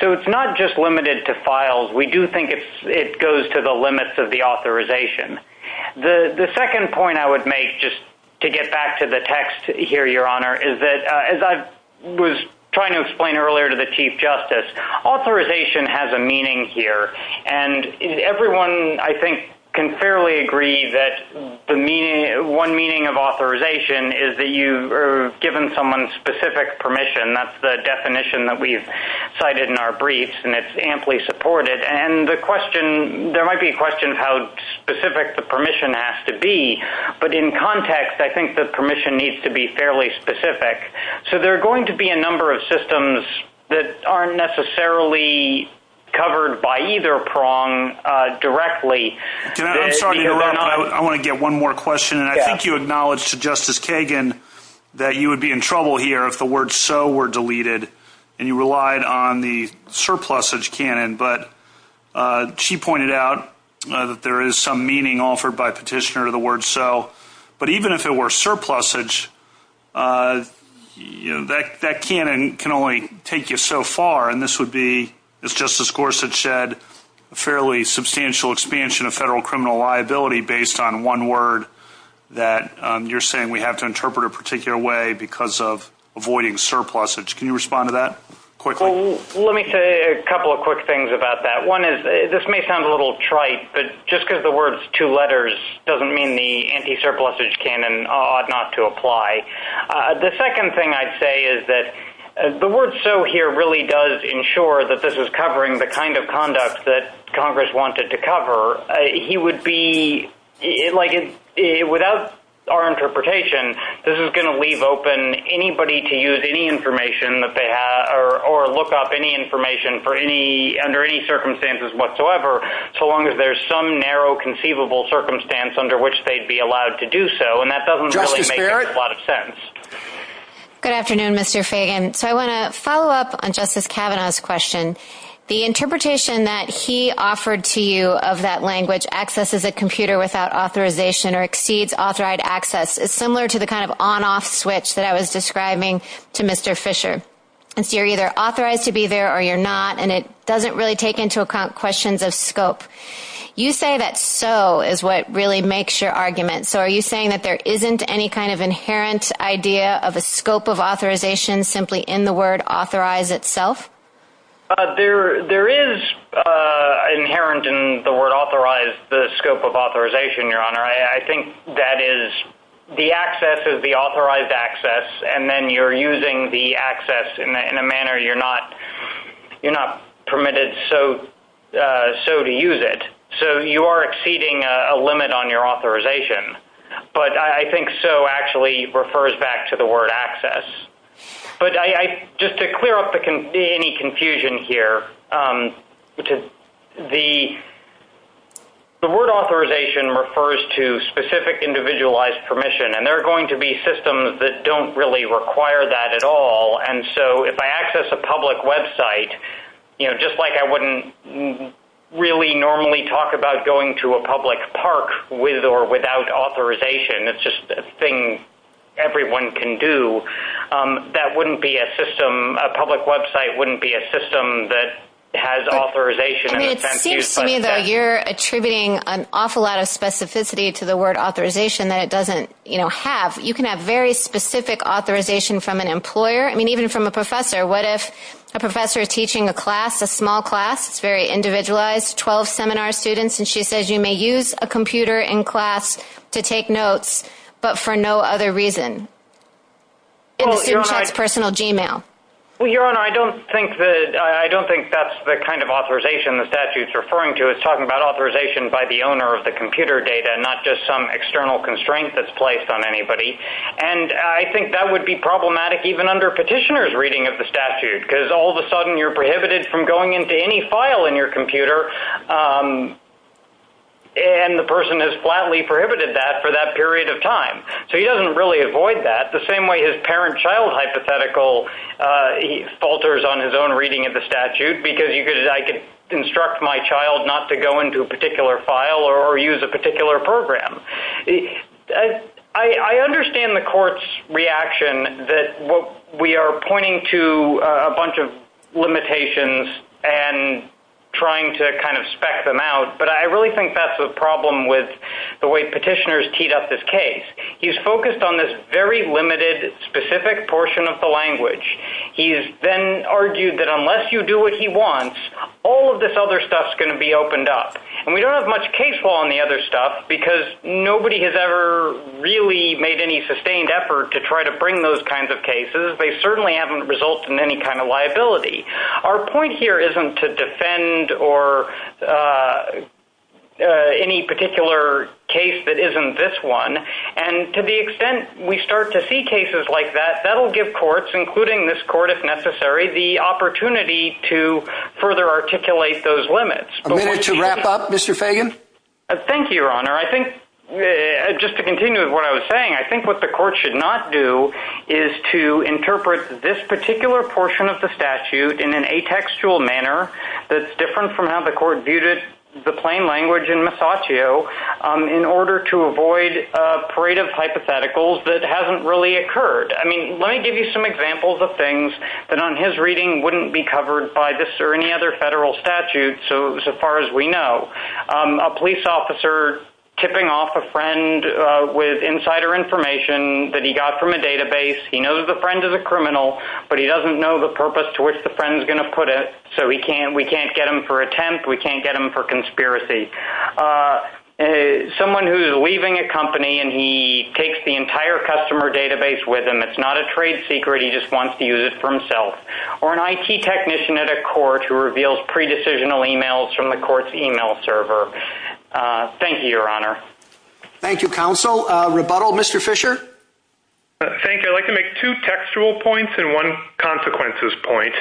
So it's not just limited to files. We do think it goes to the limits of the authorization. The second point I would make, just to get back to the text here, Your Honor, is that as I was trying to explain earlier to the Chief Justice, authorization has a meaning here. And everyone, I think, can fairly agree that one meaning of authorization is that you are given someone's specific permission. That's the definition that we've cited in our briefs, and it's amply supported. And the question – there might be a question of how specific the permission has to be. But in context, I think the permission needs to be fairly specific. So there are going to be a number of systems that aren't necessarily covered by either prong directly. I'm sorry to interrupt, but I want to get one more question. And I think you acknowledged to Justice Kagan that you would be in trouble here if the word so were deleted and you relied on the surplusage canon. But she pointed out that there is some meaning offered by petitioner to the word so. But even if it were surplusage, that canon can only take you so far. And this would be, as Justice Gorsuch said, a fairly substantial expansion of federal criminal liability based on one word that you're saying we have to interpret a particular way because of avoiding surplusage. Can you respond to that quickly? Let me say a couple of quick things about that. One is this may sound a little trite, but just because the word is two letters doesn't mean the anti-surplusage canon ought not to apply. The second thing I'd say is that the word so here really does ensure that this is covering the kind of conduct that Congress wanted to cover. He would be – like without our interpretation, this is going to leave open anybody to use any information that they have or look up any information under any circumstances whatsoever so long as there's some narrow conceivable circumstance under which they'd be allowed to do so. And that doesn't really make a lot of sense. Good afternoon, Mr. Fagan. So I want to follow up on Justice Kavanaugh's question. The interpretation that he offered to you of that language, access is a computer without authorization or exceeds authorized access, is similar to the kind of on-off switch that I was describing to Mr. Fisher. So you're either authorized to be there or you're not, and it doesn't really take into account questions of scope. You say that so is what really makes your argument. So are you saying that there isn't any kind of inherent idea of a scope of authorization simply in the word authorize itself? There is inherent in the word authorize the scope of authorization, Your Honor. I think that is the access is the authorized access, and then you're using the access in a manner you're not permitted so to use it. So you are exceeding a limit on your authorization. But I think so actually refers back to the word access. But just to clear up any confusion here, the word authorization refers to specific individualized permission, and there are going to be systems that don't really require that at all. And so if I access a public website, just like I wouldn't really normally talk about going to a public park with or without authorization, it's just a thing everyone can do, that wouldn't be a system, a public website wouldn't be a system that has authorization. It seems to me that you're attributing an awful lot of specificity to the word authorization that it doesn't have. You can have very specific authorization from an employer. I mean, even from a professor. What if a professor is teaching a class, a small class, it's very individualized, 12 seminar students, and she says you may use a computer in class to take notes, but for no other reason in the student's personal Gmail? Well, Your Honor, I don't think that's the kind of authorization the statute is referring to. It's talking about authorization by the owner of the computer data and not just some external constraint that's placed on anybody. And I think that would be problematic even under petitioner's reading of the statute, because all of a sudden you're prohibited from going into any file in your computer, and the person has flatly prohibited that for that period of time. So he doesn't really avoid that. The same way his parent-child hypothetical falters on his own reading of the statute, because I could instruct my child not to go into a particular file or use a particular program. I understand the court's reaction that we are pointing to a bunch of limitations and trying to kind of spec them out, but I really think that's the problem with the way petitioners teed up this case. He's focused on this very limited, specific portion of the language. He's then argued that unless you do what he wants, all of this other stuff is going to be opened up. And we don't have much case law on the other stuff, because nobody has ever really made any sustained effort to try to bring those kinds of cases. They certainly haven't resulted in any kind of liability. Our point here isn't to defend any particular case that isn't this one. And to the extent we start to see cases like that, that will give courts, including this court if necessary, the opportunity to further articulate those limits. A minute to wrap up. Mr. Fagan? Thank you, Your Honor. Just to continue with what I was saying, I think what the court should not do is to interpret this particular portion of the statute in an atextual manner that's different from how the court viewed it, the plain language in Masaccio, in order to avoid a parade of hypotheticals that hasn't really occurred. Let me give you some examples of things that on his reading wouldn't be covered by this or any other federal statute so far as we know. A police officer tipping off a friend with insider information that he got from a database. He knows the friend is a criminal, but he doesn't know the purpose to which the friend is going to put it. So we can't get him for attempt. We can't get him for conspiracy. Someone who is leaving a company and he takes the entire customer database with him. It's not a trade secret. He just wants to use it for himself. Or an IT technician at a court who reveals pre-decisional emails from the court's email server. Thank you, Your Honor. Thank you, Counsel. Rebuttal, Mr. Fisher? Thank you. I'd like to make two textual points and one consequences point.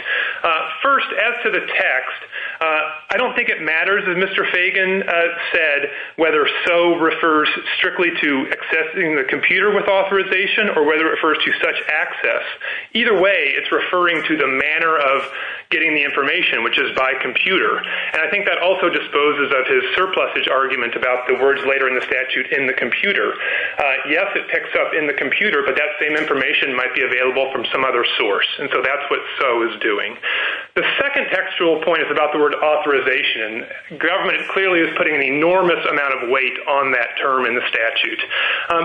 First, as to the text, I don't think it matters, as Mr. Fagan said, whether so refers strictly to accessing the computer with authorization or whether it refers to such access. Either way, it's referring to the manner of getting the information, which is by computer. And I think that also disposes of his surplusage argument about the words later in the statute in the computer. Yes, it picks up in the computer, but that same information might be available from some other source. And so that's what so is doing. The second textual point is about the word authorization. Government clearly is putting an enormous amount of weight on that term in the statute.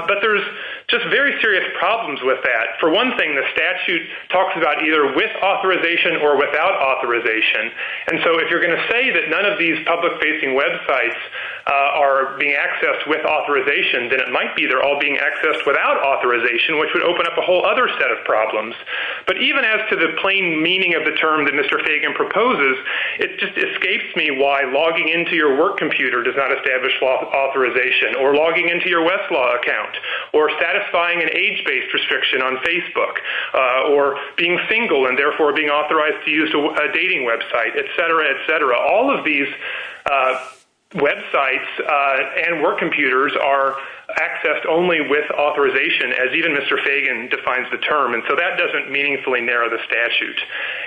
But there's just very serious problems with that. For one thing, the statute talks about either with authorization or without authorization. And so if you're going to say that none of these public-facing websites are being accessed with authorization, then it might be they're all being accessed without authorization, which would open up a whole other set of problems. But even as to the plain meaning of the term that Mr. Fagan proposes, it just escapes me why logging into your work computer does not establish authorization or logging into your Westlaw account or satisfying an age-based restriction on Facebook or being single and therefore being authorized to use a dating website, et cetera, et cetera. All of these websites and work computers are accessed only with authorization, as even Mr. Fagan defines the term. And so that doesn't meaningfully narrow the statute.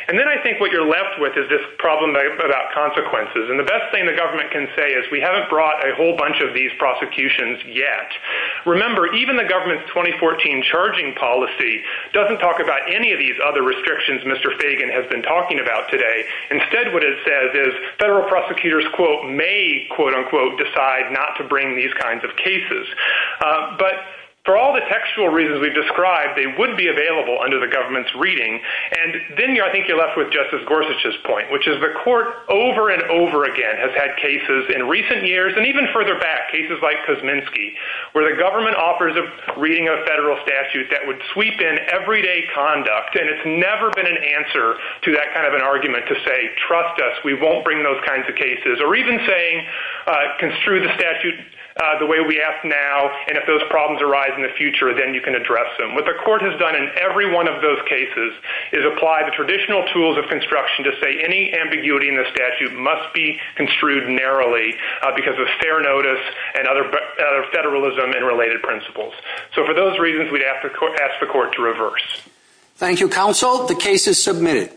And then I think what you're left with is this problem about consequences. And the best thing the government can say is we haven't brought a whole bunch of these prosecutions yet. Remember, even the government's 2014 charging policy doesn't talk about any of these other restrictions Mr. Fagan has been talking about today. Instead what it says is federal prosecutors, quote, may, quote, unquote, decide not to bring these kinds of cases. But for all the textual reasons we've described, they would be available under the government's reading. And then I think you're left with Justice Gorsuch's point, which is the court, over and over again, has had cases in recent years and even further back, cases like Kosminski, where the government offers a reading of a federal statute that would sweep in everyday conduct, and it's never been an answer to that kind of an argument to say, trust us, we won't bring those kinds of cases, or even saying, construe the statute the way we ask now, and if those problems arise in the future, then you can address them. What the court has done in every one of those cases is apply the traditional tools of construction to say any ambiguity in the statute must be construed narrowly because of fair notice and other federalism and related principles. So for those reasons, we'd ask the court to reverse. Thank you, counsel. The case is submitted.